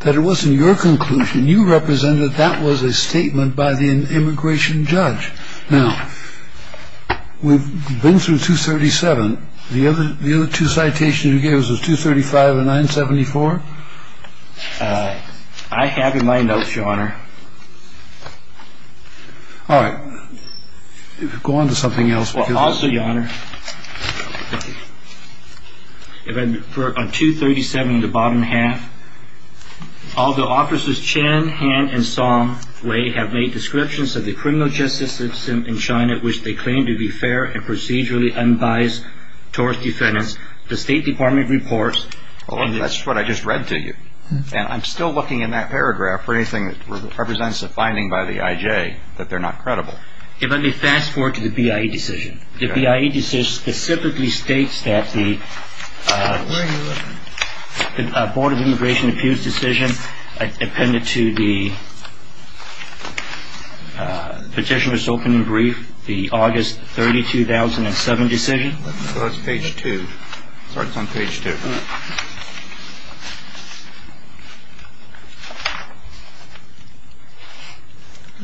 that it wasn't your conclusion. You represented that was a statement by the immigration judge. Now, we've been through 237. The other two citations you gave us was 235 and 974. I have in my notes, Your Honor. All right. Go on to something else. Well, also, Your Honor, on 237, the bottom half, all the officers Chen, Han, and Song Wei have made descriptions of the criminal justice system in China, which they claim to be fair and procedurally unbiased towards defendants. The State Department reports... Well, that's what I just read to you. And I'm still looking in that paragraph for anything that represents a finding by the IJ that they're not credible. Let me fast-forward to the BIA decision. The BIA decision specifically states that the Board of Immigration refused decision dependent to the petitioner's opening brief, the August 30, 2007 decision. So that's page 2. It starts on page 2. All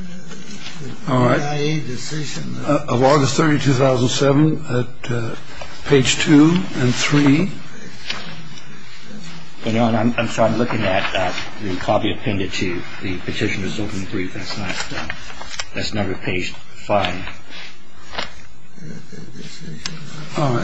right. All right. The BIA decision... Of August 30, 2007, at page 2 and 3. Your Honor, I'm looking at probably a thing or two. The petitioner's opening brief. That's not... That's not at page 5. All right.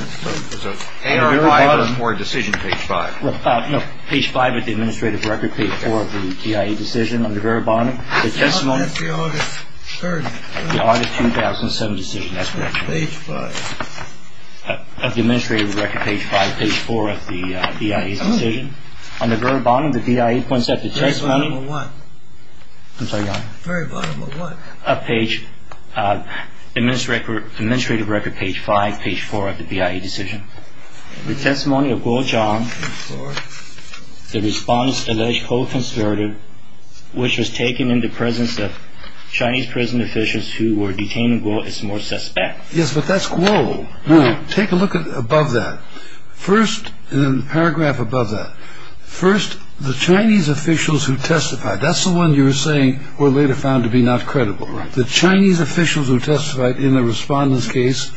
Page 5 of the administrative record, page 4 of the BIA decision. On the very bottom, the testimony of the August 30, 2007 decision. That's what I'm looking at. Page 5. Of the administrative record, page 5, page 4 of the BIA decision. On the very bottom, the BIA points out the testimony... Very bottom of what? I'm sorry, Your Honor? Very bottom of what? Of page... Administrative record, page 5, page 4 of the BIA decision. The testimony of Guo Zhang, the response alleged co-conservative, which was taken in the presence of Chinese prison officials who were detaining Guo, is more suspect. Yes, but that's Guo. Guo. Take a look above that. First, in the paragraph above that. First, the Chinese officials who testified. That's the ones you were saying were later found to be not credible. The Chinese officials who testified in the respondent's case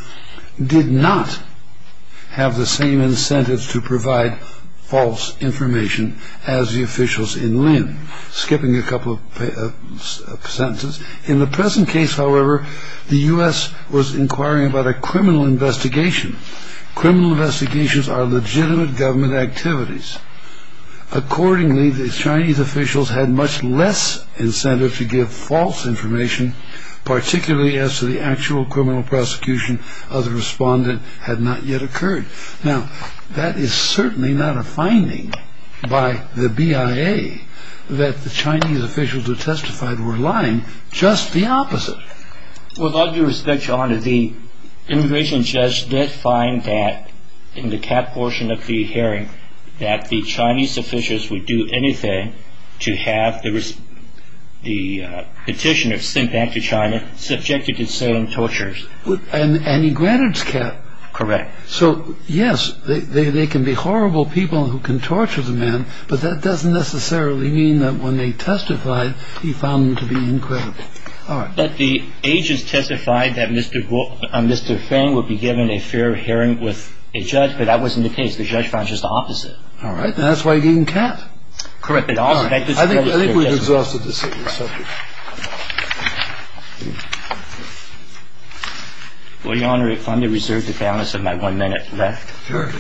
did not have the same incentives to provide false information as the officials in Lin. Skipping a couple of sentences. In the present case, however, the U.S. was inquiring about a criminal investigation. Criminal investigations are legitimate government activities. Accordingly, the Chinese officials had much less incentive to give false information, particularly as to the actual criminal prosecution of the respondent had not yet occurred. Now, that is certainly not a finding by the BIA that the Chinese officials who testified were lying. Just the opposite. With all due respect, Your Honor, the immigration judge did find that in the cap portion of the hearing that the Chinese officials would do anything to have the petitioner sent back to China subjected to sale and tortures. And he granted his cap. Correct. So, yes, they can be horrible people who can torture the man, but that doesn't necessarily mean that when they testified he found them to be incredible. But the agents testified that Mr. Feng would be given a fair hearing with a judge, but that wasn't the case. The judge found just the opposite. All right. And that's why he gave him a cap. Correct. I think we've exhausted the subject. Will Your Honor, if I may reserve the balance of my one minute left? Sure. You had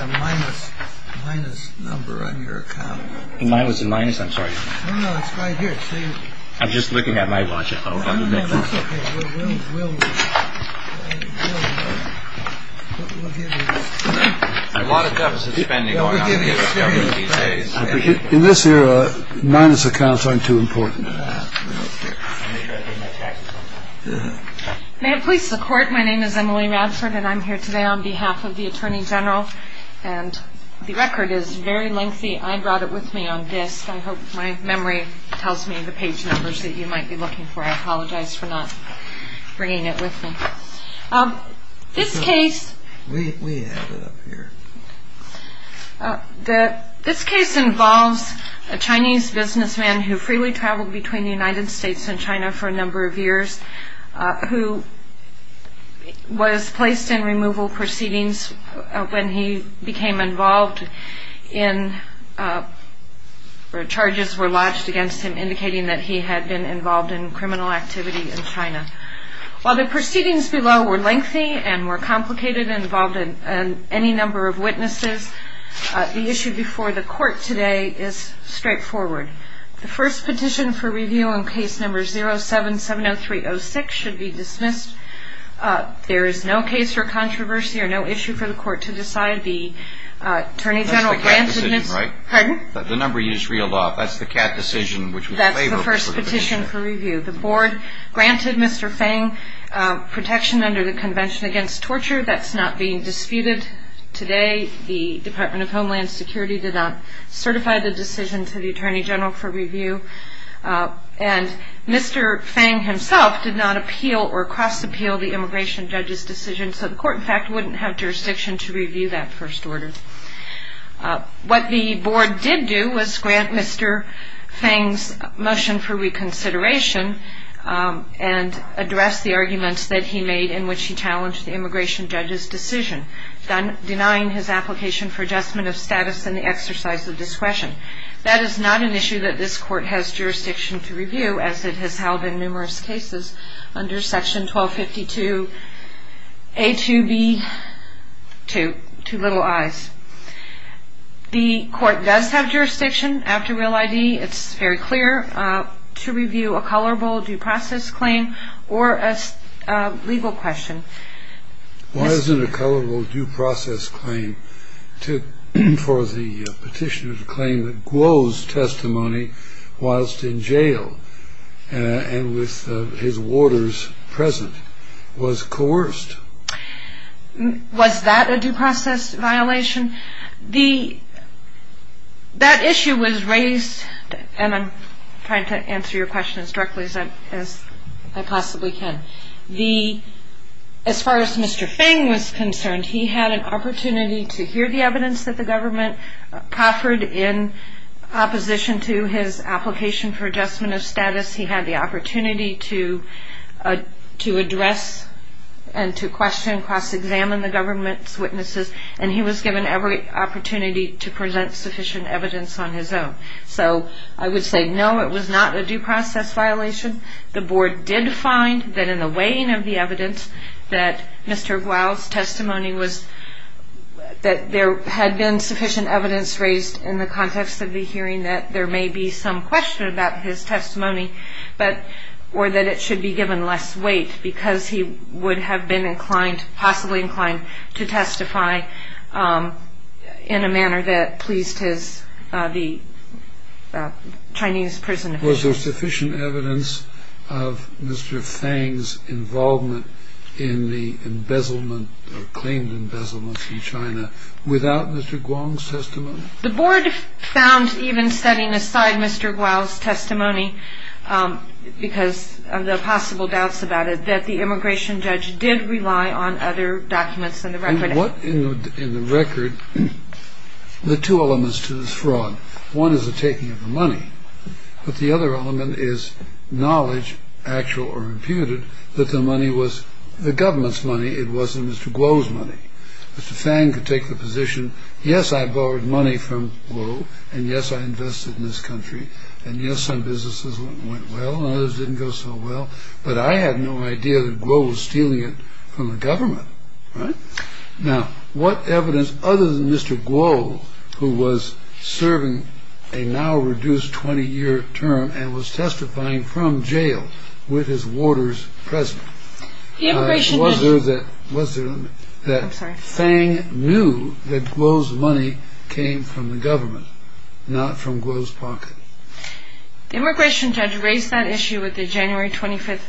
a minus number on your account. Mine was a minus? I'm sorry. No, no. It's right here. I'm just looking at my watch. I don't know. I want to depending on this year minus accounts aren't too important. They have placed the court. My name is Emily. I'm here today on behalf of the attorney general. And the record is very lengthy. I brought it with me on this. My memory tells me the page numbers that you might be looking for. I apologize for not bringing it with me. This case involves a Chinese businessman who freely traveled between the United States and China for a number of years who was placed in removal proceedings when he became involved in or charges were lodged against him indicating that he had been involved in criminal activity in China. While the proceedings below were lengthy and were complicated and involved any number of witnesses, the issue before the court today is straightforward. The first petition for review in case number 0770306 should be dismissed. There is no case or controversy or no issue for the court to decide. The attorney general granted Mr. That's the cat decision, right? Pardon? The number used for your law. That's the cat decision which was favored for the petition. That's the first petition for review. The board granted Mr. Fang protection under the Convention Against Torture. That's not being disputed today. The Department of Homeland Security did not certify the decision to the attorney general for review. And Mr. Fang himself did not appeal or cross-appeal the immigration judge's decision. So the court, in fact, wouldn't have jurisdiction to review that first order. What the board did do was grant Mr. Fang's motion for reconsideration and address the arguments that he made in which he challenged the immigration judge's decision. Denying his application for adjustment of status and the exercise of discretion. That is not an issue that this court has jurisdiction to review, as it has held in numerous cases under Section 1252A2B2. Two little I's. The court does have jurisdiction after Real ID. It's very clear to review a colorable due process claim or a legal question. Why isn't a colorable due process claim for the petitioner's claim that Guo's testimony was in jail and with his waters present was coerced? Was that a due process violation? That issue was raised, and I'm trying to answer your questions as directly as I possibly can. As far as Mr. Fang was concerned, he had an opportunity to hear the evidence that the government offered in opposition to his application for adjustment of status. He had the opportunity to address and to question, cross-examine the government's witnesses, and he was given every opportunity to present sufficient evidence on his own. So I would say, no, it was not a due process violation. The board did find that in the weighing of the evidence that Mr. Guo's testimony was that there had been sufficient evidence raised in the context of the hearing that there may be some question about his testimony, or that it should be given less weight because he would have been inclined, possibly inclined, to testify in a manner that pleased the Chinese prison officials. Was there sufficient evidence of Mr. Fang's involvement in the embezzlement, or claimed embezzlement in China, without Mr. Guo's testimony? The board found, even setting aside Mr. Guo's testimony because of the possible doubts about it, that the immigration judge did rely on other documents in the record. And what in the record, the two elements to this fraud, one is the taking of the money, but the other element is knowledge, actual or reputed, that the money was the government's money, it wasn't Mr. Guo's money. Mr. Fang could take the position, yes, I borrowed money from Guo, and yes, I invested in this country, and yes, some businesses went well, others didn't go so well, but I had no idea that Guo was stealing it from the government. Now, what evidence, other than Mr. Guo, who was serving a now-reduced 20-year term, and was testifying from jail with his warders present, was there that Fang knew that Guo's money came from the government, not from Guo's pocket? The immigration judge raised that issue at the January 25,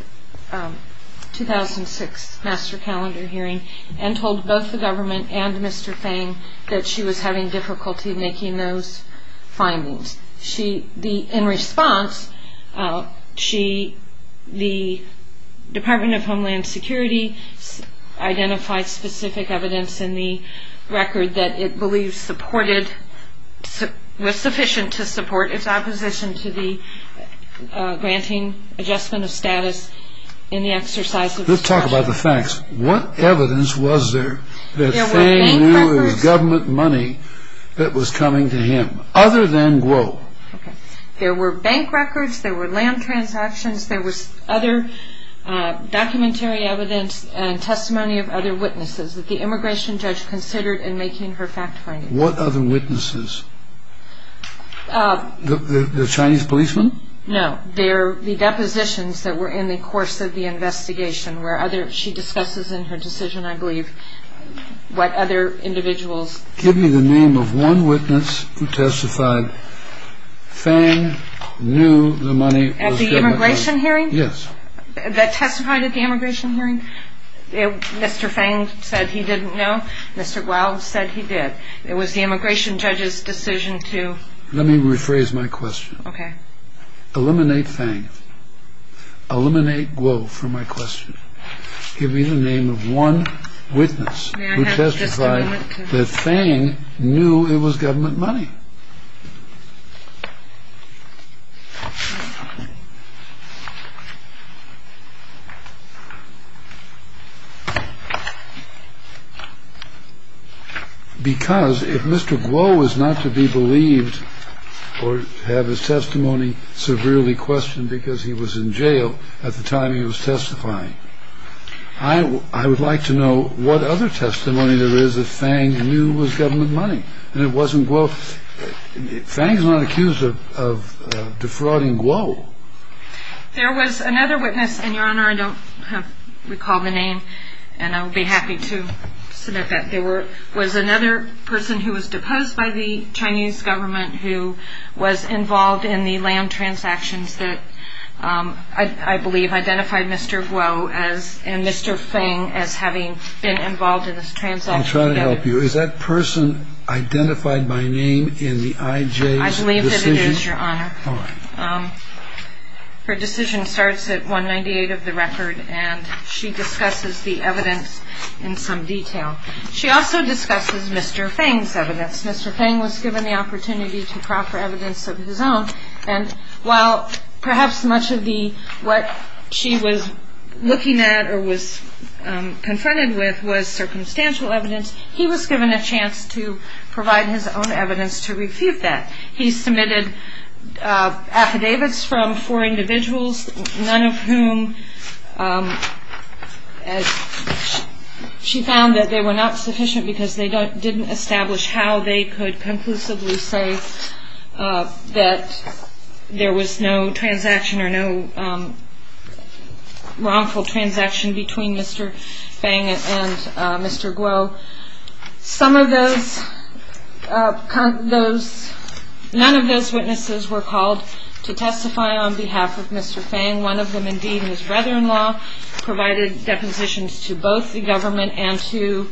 2006, Master Calendar hearing, and told both the government and Mr. Fang that she was having difficulty making those findings. In response, the Department of Homeland Security identified specific evidence in the record that it believes was sufficient to support its opposition to the granting, adjustment of status in the exercise of its powers. Let's talk about the facts. What evidence was there that Fang knew it was government money that was coming to him, other than Guo? There were bank records, there were land transactions, there was other documentary evidence and testimony of other witnesses that the immigration judge considered in making her fact-framing. What other witnesses? The Chinese policemen? No, the depositions that were in the course of the investigation, where she discusses in her decision, I believe, what other individuals… Give me the name of one witness who testified Fang knew the money was government money. At the immigration hearing? Yes. That testified at the immigration hearing? Mr. Fang said he didn't know. Mr. Guo said he did. It was the immigration judge's decision to… Let me rephrase my question. Okay. Eliminate Fang. Eliminate Guo from my question. Give me the name of one witness who testified that Fang knew it was government money. Because if Mr. Guo was not to be believed, or have his testimony severely questioned because he was in jail at the time he was testifying, I would like to know what other testimony there is that Fang knew was government money, and it wasn't Guo. Fang is not accused of defrauding Guo. There was another witness, and, Your Honor, I don't recall the name, and I'll be happy to submit that. There was another person who was deposed by the Chinese government who was involved in the land transactions that, I believe, identified Mr. Guo and Mr. Fang as having been involved in this transaction. I'll try to help you. Is that person identified by name in the IJ's decision? I believe that it is, Your Honor. Her decision starts at 198 of the record, and she discusses the evidence in some detail. She also discusses Mr. Fang's evidence. Mr. Fang was given the opportunity to proffer evidence of his own, and while perhaps much of what she was looking at or was confronted with was circumstantial evidence, he was given a chance to provide his own evidence to refute that. He submitted affidavits from four individuals, none of whom she found that they were not sufficient because they didn't establish how they could conclusively prove that there was no transaction or no wrongful transaction between Mr. Fang and Mr. Guo. None of those witnesses were called to testify on behalf of Mr. Fang. One of them, indeed, Ms. Rutherford, provided definitions to both the government and to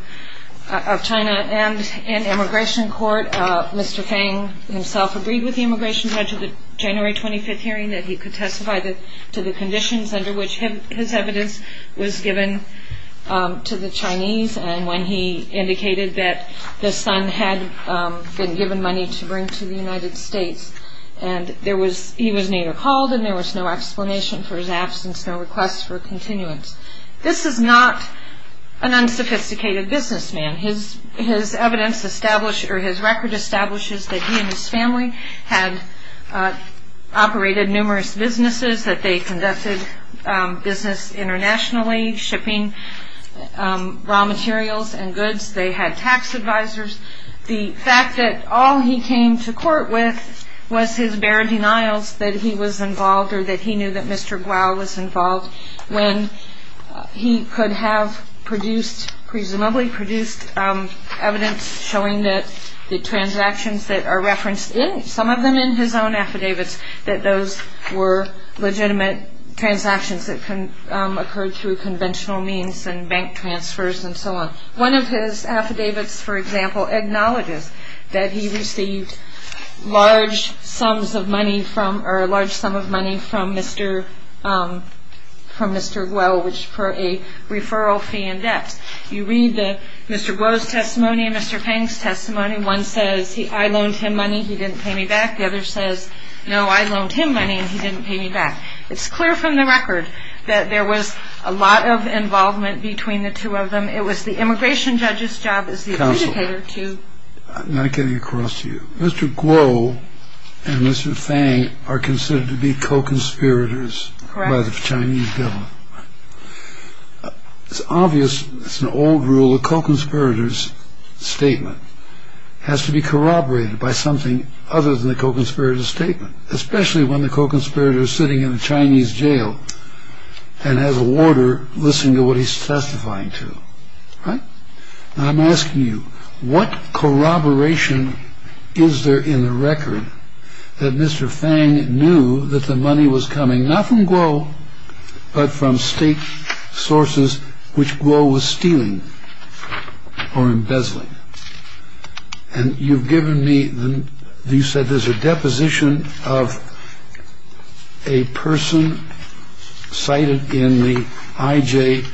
China and an immigration court. Mr. Fang himself agreed with the immigration court to the January 25th hearing that he could testify to the conditions under which his evidence was given to the Chinese, and when he indicated that the son had been given money to bring to the United States. And he was neither called, and there was no explanation for his absence, no requests for continuance. This is not an unsophisticated businessman. His record establishes that he and his family had operated numerous businesses, that they conducted business internationally, shipping raw materials and goods. They had tax advisors. The fact that all he came to court with was his bare denial that he was involved or that he knew that Mr. Guo was involved when he could have presumably produced evidence showing that the transactions that are referenced in some of them in his own affidavits, that those were legitimate transactions that occurred through conventional means and bank transfers and so on. One of his affidavits, for example, acknowledges that he received large sums of money from Mr. Guo, which for a referral fee in depth. You read Mr. Guo's testimony and Mr. Fang's testimony. One says, I loaned him money, he didn't pay me back. The other says, no, I loaned him money and he didn't pay me back. It's clear from the record that there was a lot of involvement between the two of them. It was the immigration judge's job as the adjudicator to- Counsel, I'm not getting across to you. Mr. Guo and Mr. Fang are considered to be co-conspirators by the Chinese government. It's obvious, it's an old rule, a co-conspirator's statement has to be corroborated by something other than the co-conspirator's statement, especially when the co-conspirator is sitting in a Chinese jail and has a warder listening to what he's testifying to. I'm asking you, what corroboration is there in the record that Mr. Fang knew that the money was coming, not from Guo, but from state sources which Guo was stealing or embezzling? And you've given me, you said there's a deposition of a person cited in the IJ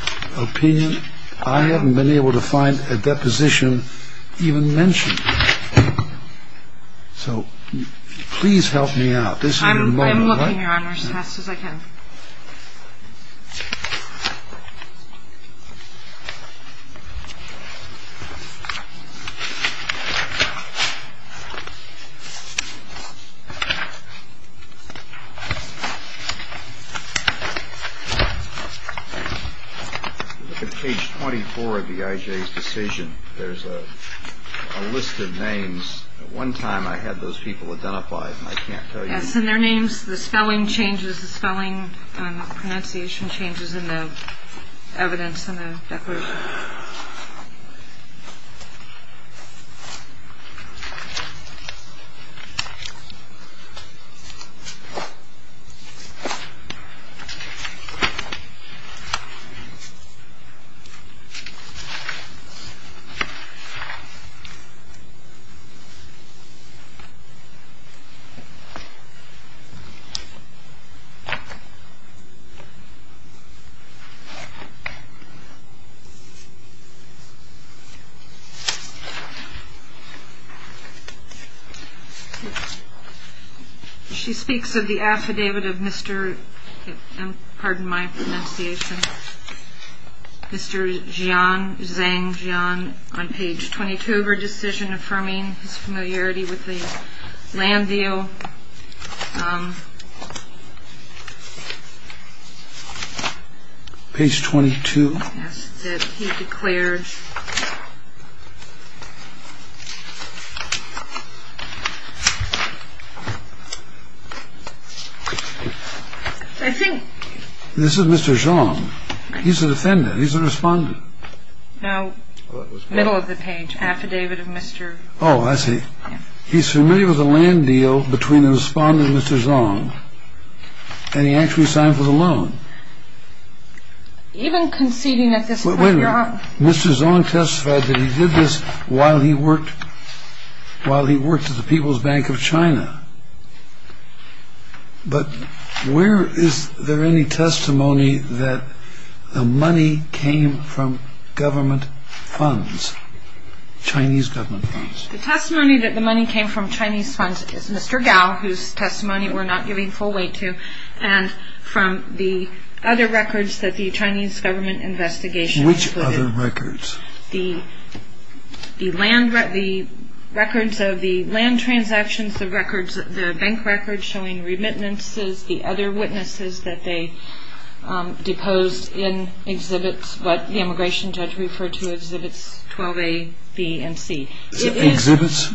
opinion. I haven't been able to find a deposition even mentioned. So, please help me out. I'm looking around as fast as I can. If you look at page 24 of the IJ's decision, there's a list of names. At one time I had those people identified, and I can't tell you- And their names, the spelling changes, the spelling and pronunciation changes in the evidence in the deposition. She speaks of the affidavit of Mr. Zhang Jian on page 22 of her decision affirming his familiarity with the land deal. Page 22? Yes, that he declared- I think- This is Mr. Zhang. He's the defendant, he's the respondent. No, middle of the page, affidavit of Mr- Oh, I see. He's familiar with the land deal between the respondent and Mr. Zhang, and he actually signed for the loan. Even conceding at this point- Mr. Zhang testified that he did this while he worked at the People's Bank of China. But where is there any testimony that the money came from government funds, Chinese government funds? The testimony that the money came from Chinese funds is Mr. Gao, whose testimony we're not giving full weight to, and from the other records that the Chinese government investigation- Which other records? The records of the land transactions, the bank records showing remittances, the other witnesses that they deposed in exhibits, what the immigration judge referred to as Exhibits 12A, B, and C. Exhibits?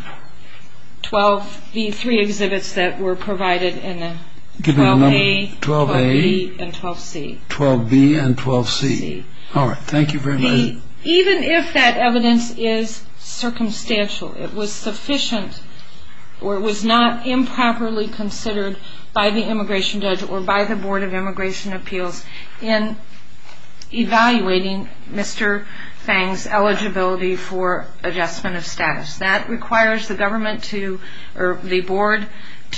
These three exhibits that were provided in 12A, 12B, and 12C. 12B and 12C. All right, thank you very much. Even if that evidence is circumstantial, it was sufficient or it was not improperly considered by the immigration judge or by the Board of Immigration Appeals in evaluating Mr. Zhang's eligibility for adjustment of status. That requires the Board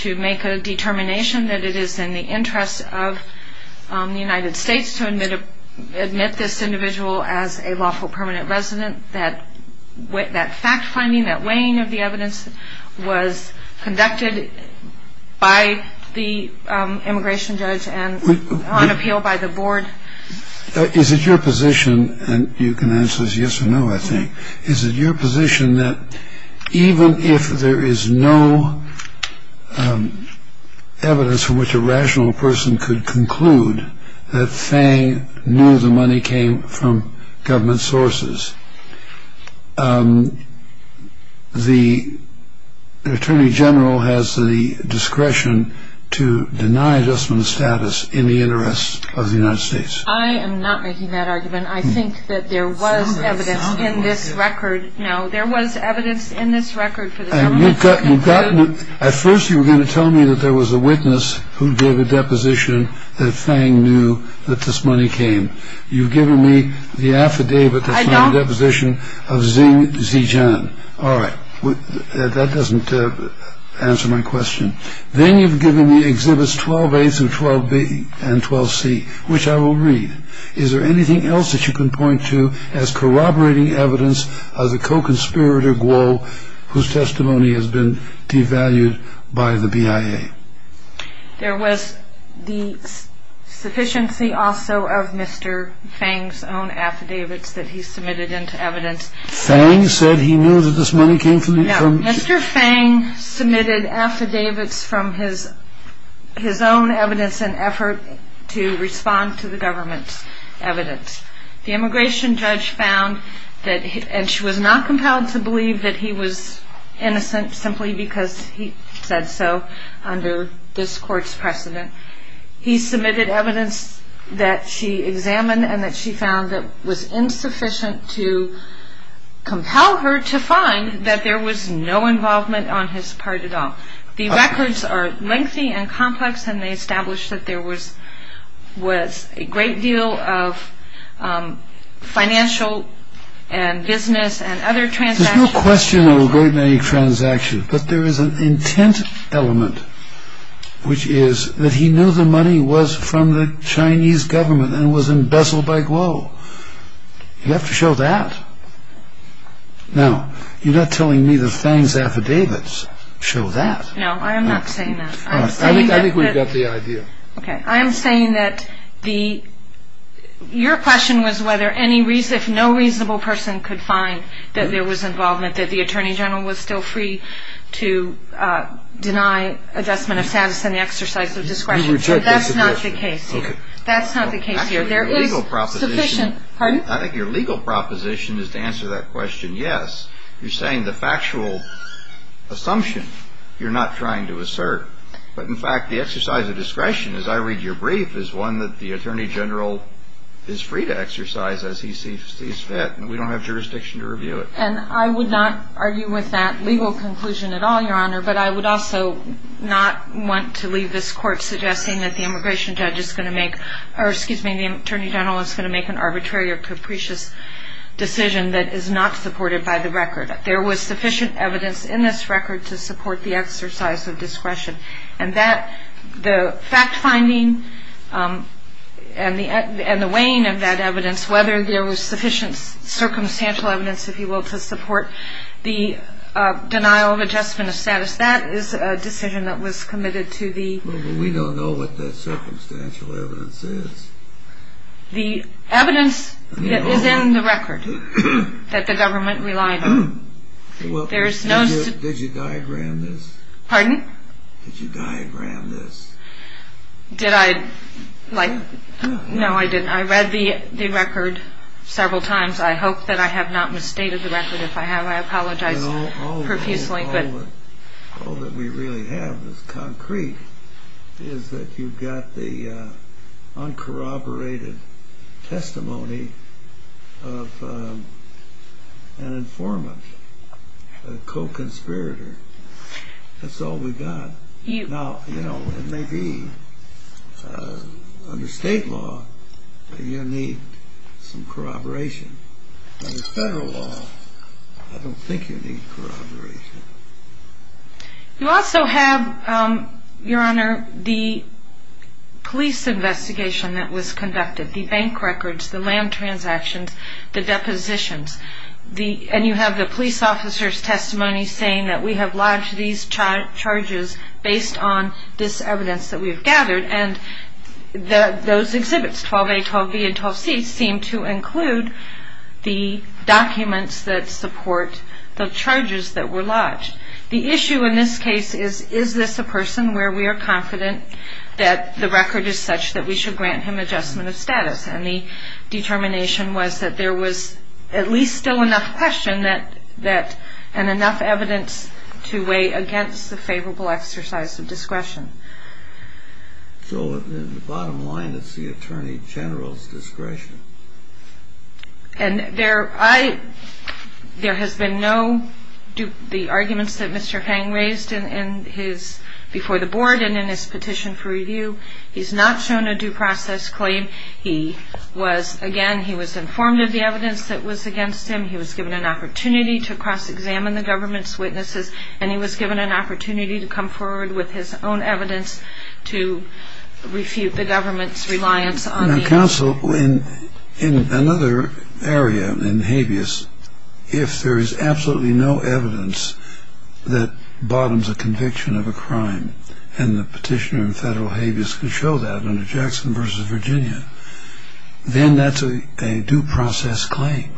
to make a determination that it is in the interest of the United States to admit this individual as a lawful permanent resident. That fact-finding, that weighing of the evidence was conducted by the immigration judge and on appeal by the Board. Is it your position, and you can answer yes or no I think, is it your position that even if there is no evidence from which a rational person could conclude that Zhang knew the money came from government sources, the Attorney General has the discretion to deny adjustment of status in the interest of the United States? I am not making that argument. I think that there was evidence in this record. No, there was evidence in this record. At first you were going to tell me that there was a witness who gave a deposition that Zhang knew that this money came. You've given me the affidavit of Zhang's deposition. All right, that doesn't answer my question. Then you've given me exhibits 12A and 12B and 12C, which I will read. Is there anything else that you can point to as corroborating evidence of the co-conspirator Guo, whose testimony has been devalued by the BIA? There was the sufficiency also of Mr. Fang's own affidavits that he submitted into evidence. Fang said he knew that this money came from... No, Mr. Fang submitted affidavits from his own evidence and effort to respond to the government's evidence. The immigration judge found that... And she was not compelled to believe that he was innocent simply because he said so under this court's precedent. He submitted evidence that she examined and that she found that was insufficient to compel her to find that there was no involvement on his part at all. The records are lengthy and complex, and they establish that there was a great deal of financial and business and other transactions... There's no question of a great many transactions, but there is an intent element, which is that he knew the money was from the Chinese government and was embezzled by Guo. You have to show that. Now, you're not telling me that Fang's affidavits show that. No, I'm not saying that. I think we've got the idea. Okay, I'm saying that your question was whether if no reasonable person could find that there was involvement, that the Attorney General was still free to deny adjustment of status on the exercise of discretion. So that's not the case here. That's not the case here. I think your legal proposition is to answer that question, yes. You're saying the factual assumption you're not trying to assert. But, in fact, the exercise of discretion, as I read your brief, is one that the Attorney General is free to exercise as he sees fit. We don't have jurisdiction to review it. And I would not argue with that legal conclusion at all, Your Honor. But I would also not want to leave this Court suggesting that the immigration judge is going to make or, excuse me, the Attorney General is going to make an arbitrary or capricious decision that is not supported by the record. There was sufficient evidence in this record to support the exercise of discretion. And the fact-finding and the weighing of that evidence, whether there was sufficient circumstantial evidence, if you will, to support the denial of adjustment of status, that is a decision that was committed to the- Well, but we don't know what the circumstantial evidence is. The evidence that is in the record that the government relied on. There is no- Did you diagram this? Pardon? Did you diagram this? Did I? No, I didn't. I read the record several times. I hope that I have not misstated the record. If I have, I apologize. No, all that we really have that's concrete is that you've got the uncorroborated testimony of an informant, a co-conspirator. That's all we've got. Now, you know, it may be under state law that you need some corroboration. Under federal law, I don't think you need corroboration. You also have, Your Honor, the police investigation that was conducted, the bank records, the land transactions, the depositions. And you have the police officer's testimony saying that we have lodged these charges based on this evidence that we've gathered. And those exhibits, 12A, 12B, and 12C, seem to include the documents that support the charges that were lodged. The issue in this case is, is this a person where we are confident that the record is such that we should grant him adjustment of status? And the determination was that there was at least still enough question and enough evidence to weigh against the favorable exercise of discretion. So then the bottom line is the attorney general's discretion. And there has been no, the arguments that Mr. Fang raised before the board and in his petition for review, he's not shown a due process claim. He was, again, he was informed of the evidence that was against him. He was given an opportunity to cross-examine the government's witnesses. And he was given an opportunity to come forward with his own evidence to refute the government's reliance on him. In another area, in habeas, if there is absolutely no evidence that bottoms a conviction of a crime, and the petitioner in federal habeas can show that under Jackson v. Virginia, then that's a due process claim.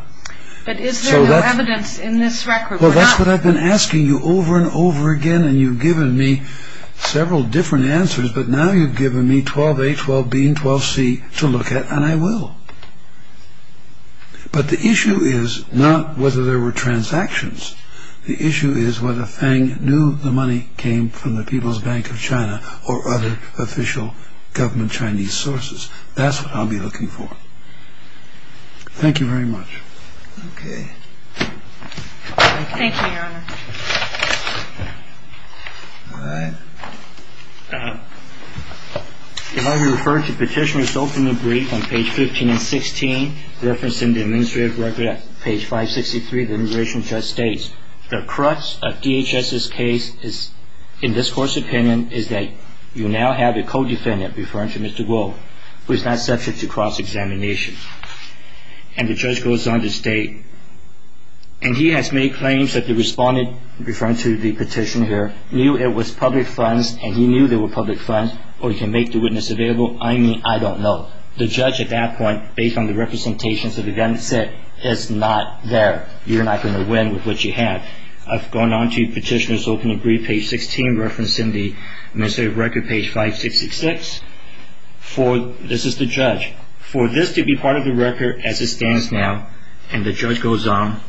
But is there no evidence in this record? Well, that's what I've been asking you over and over again, and you've given me several different answers. But now you've given me 12A, 12B, and 12C to look at, and I will. But the issue is not whether there were transactions. The issue is whether Fang knew the money came from the People's Bank of China or other official government Chinese sources. That's what I'll be looking for. Thank you very much. Okay. Thank you, Your Honor. All right. If I may refer to Petitioner's opening brief on page 15 and 16, referenced in the Administrative Record at page 563 of the Immigration Test States, the crux of DHS's case in this Court's opinion is that you now have a co-defendant, referring to Mr. Wolf, who is not subject to cross-examination. And the judge goes on to state, and he has made claims that the respondent, referring to the Petitioner here, knew it was public funds, and he knew they were public funds, or he can make the witness available. I mean, I don't know. The judge at that point, based on the representations of the gun, said, it's not there. You're not going to win with what you have. I've gone on to Petitioner's opening brief, page 16, referenced in the Administrative Record, page 566. This is the judge. For this to be part of the record as it stands now, and the judge goes on,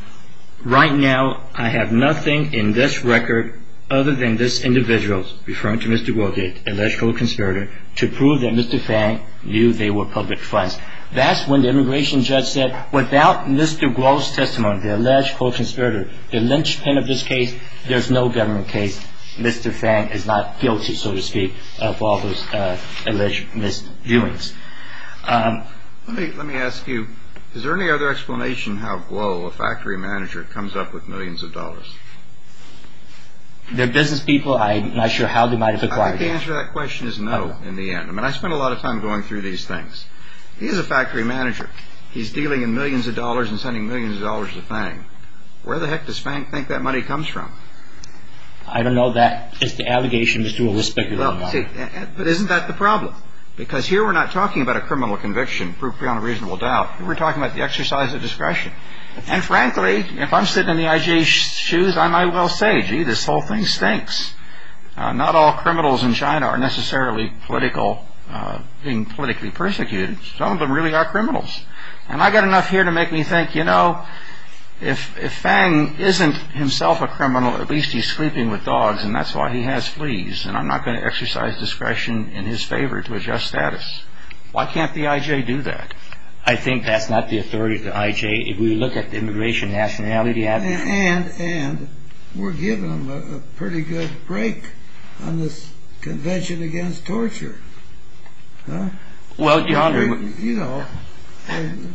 right now I have nothing in this record other than this individual, referring to Mr. Wolf, the alleged co-conspirator, to prove that Mr. Fang knew they were public funds. That's when the Immigration Judge said, without Mr. Wolf's testimony, the alleged co-conspirator, the lynchpin of this case, there's no government case. Mr. Fang is not guilty, so to speak, of all those alleged misdemeanors. Let me ask you, is there any other explanation how, whoa, a factory manager comes up with millions of dollars? They're business people. I'm not sure how they might have acquired it. I think the answer to that question is no, in the end. I mean, I spent a lot of time going through these things. He is a factory manager. He's dealing in millions of dollars and sending millions of dollars to Fang. Where the heck does Fang think that money comes from? I don't know that. It's the allegation Mr. Wolf is speculating on. But isn't that the problem? Because here we're not talking about a criminal conviction, proof beyond a reasonable doubt. We're talking about the exercise of discretion. And frankly, if I'm sitting in the IGA's shoes, I might well say, gee, this whole thing stinks. Not all criminals in China are necessarily being politically persecuted. Some of them really are criminals. And I've got enough here to make me think, you know, if Fang isn't himself a criminal, at least he's sleeping with dogs, and that's why he has fleas. And I'm not going to exercise discretion in his favor to adjust status. Why can't the IGA do that? I think that's not the authority of the IGA. If we look at the Immigration and Nationality Act. And we're giving them a pretty good break on this Convention Against Torture. You know,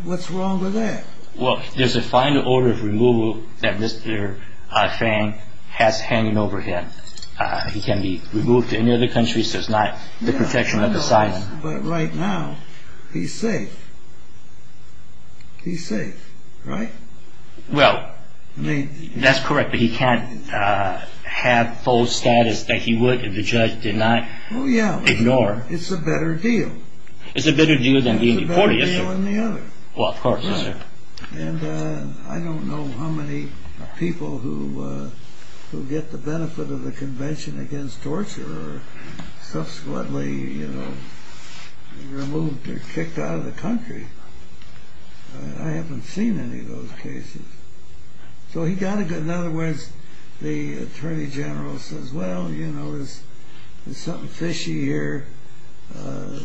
what's wrong with that? Well, there's a final order of removal that Mr. Fang has hanging over him. He can be removed to another country, so it's not the protection of asylum. But right now, he's safe. He's safe, right? Well, that's correct. But he can't have full status like he would if the judge did not ignore. Oh, yeah. It's a better deal. It's a better deal than being deported. It's a better deal than the other. Well, of course. And I don't know how many people who get the benefit of the Convention Against Torture are absolutely, you know, removed or kicked out of the country. I haven't seen any of those cases. So he got to go. In other words, the Attorney General says, well, you know, there's something fishy here. The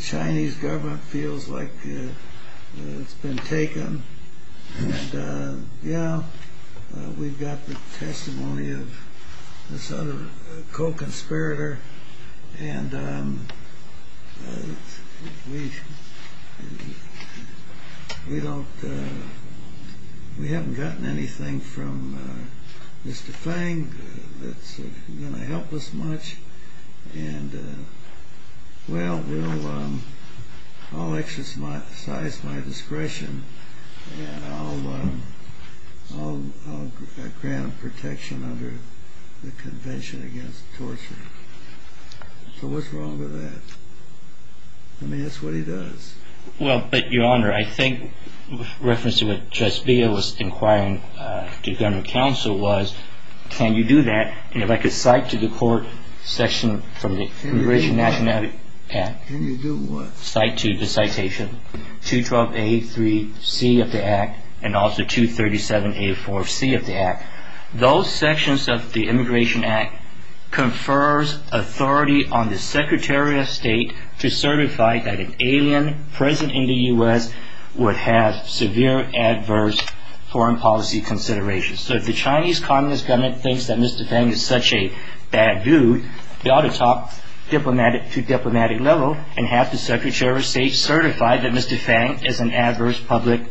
Chinese government feels like it's been taken. And, yeah, we've got the testimony of this other co-conspirator. And we don't—we haven't gotten anything from Mr. Fang that's going to help us much. And, well, you know, I'll exercise my discretion, and I'll grant protection under the Convention Against Torture. So what's wrong with that? Let me ask what he does. Well, but, Your Honor, I think in reference to what Judge Villa was inquiring to federal counsel was, can you do that? And if I could cite to the court section from the Immigration Act. Can you do what? Cite to the citation 212A3C of the Act and also 237A4C of the Act. Those sections of the Immigration Act confers authority on the Secretary of State to certify that an alien present in the U.S. would have severe adverse foreign policy considerations. So if the Chinese Communist government thinks that Mr. Fang is such a bad dude, they ought to talk to diplomatic level and have the Secretary of State certify that Mr. Fang has an adverse public—severe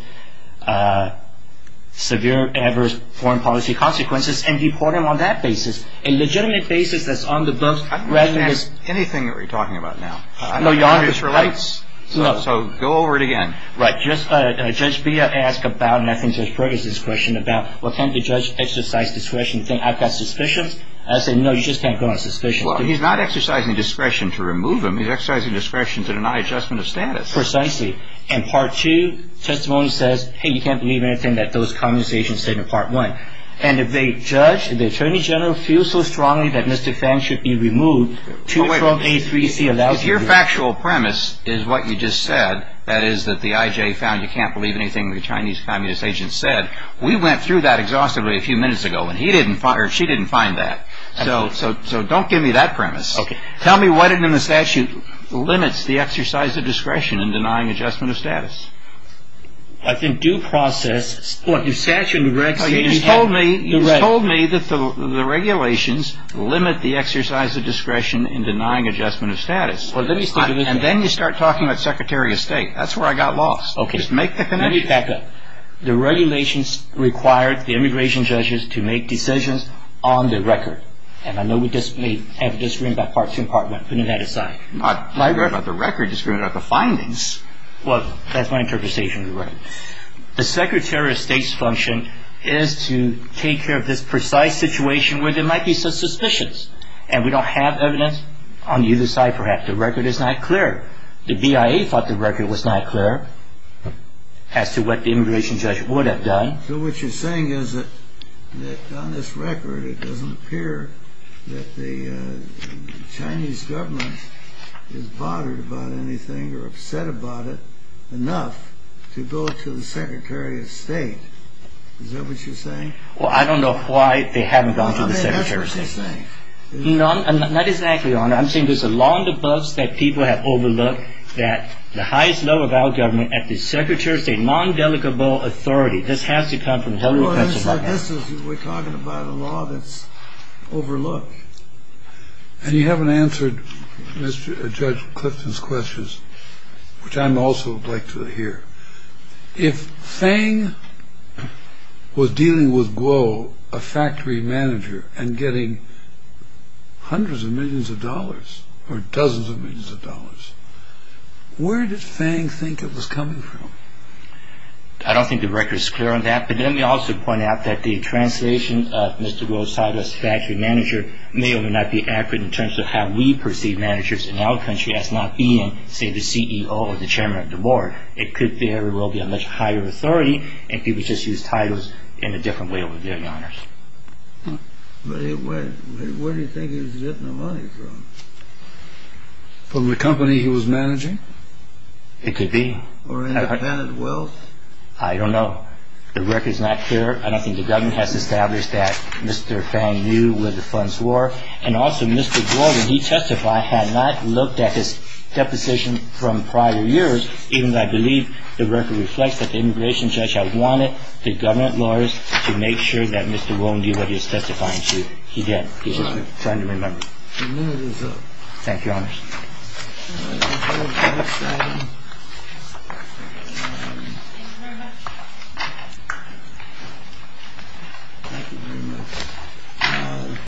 adverse foreign policy consequences and deport him on that basis, a legitimate basis that's on the books rather than— I'm not going to ask anything that you're talking about now. No, Your Honor. I know your interests are rights, so go over it again. Right. Judge Villa asked about—and I think Judge Ferguson's question about, well, can't the judge exercise discretion? Can't I have suspicions? I said, no, you just can't go on suspicions. Well, he's not exercising discretion to remove him. He's exercising discretion to deny adjustment of status. Precisely. And Part 2, Justice Williams says, hey, you can't believe anything that those conversations said in Part 1. And if they judge, if the Attorney General feels so strongly that Mr. Fang should be removed from A3C— Your factual premise is what you just said, that is, that the IJ found you can't believe anything the Chinese communist agent said. We went through that exhaustively a few minutes ago, and he didn't—or she didn't find that. So don't give me that premise. Okay. Tell me what in the statute limits the exercise of discretion in denying adjustment of status. I think due process— Well, the statute— You told me that the regulations limit the exercise of discretion in denying adjustment of status. And then you start talking about Secretary of State. That's where I got lost. Okay. Just make the connection. Let me back up. The regulations required the immigration judges to make decisions on the record. And I know we have a disagreement about Part 2 and Part 1. I mean, that is not— I read about the record disagreement, not the findings. Well, that's my interpretation. You're right. The Secretary of State's function is to take care of this precise situation where there might be some suspicions. And we don't have evidence on either side, perhaps. The record is not clear. The BIA thought the record was not clear as to what the immigration judge would have done. So what you're saying is that on this record, it doesn't appear that the Chinese government is bothered about anything or upset about it enough to go to the Secretary of State. Is that what you're saying? Well, I don't know why they haven't gone to the Secretary of State. Well, they haven't said a thing. No, not exactly, Your Honor. I'm saying there's a longer buzz that people have overlooked that the highest level of our government, at the Secretary of State, is a non-delegable authority. This has to come from Hillary Clinton. Well, in this instance, we're talking about a law that's overlooked. And you haven't answered Judge Clifton's questions, which I would also like to hear. If Fang was dealing with Guo, a factory manager, and getting hundreds of millions of dollars or dozens of millions of dollars, where does Fang think it was coming from? I don't think the record is clear on that. But let me also point out that the translation of Mr. Guo's title, factory manager, may or may not be accurate in terms of how we perceive managers in our country as not being, say, the CEO or the chairman of the board. It could very well be a much higher authority, and people just use titles in a different way over there, Your Honor. But where do you think he was getting the money from? From the company he was managing? It could be. Or independent wealth? I don't know. The record's not clear. I don't think the government has established that Mr. Fang knew where the funds were. And also, Mr. Guo, when he testified, had not looked at his deposition from prior years, even though I believe the record reflects that the immigration judge had wanted the government lawyers to make sure that Mr. Guo knew where he was testifying to. He did. Thank you very much.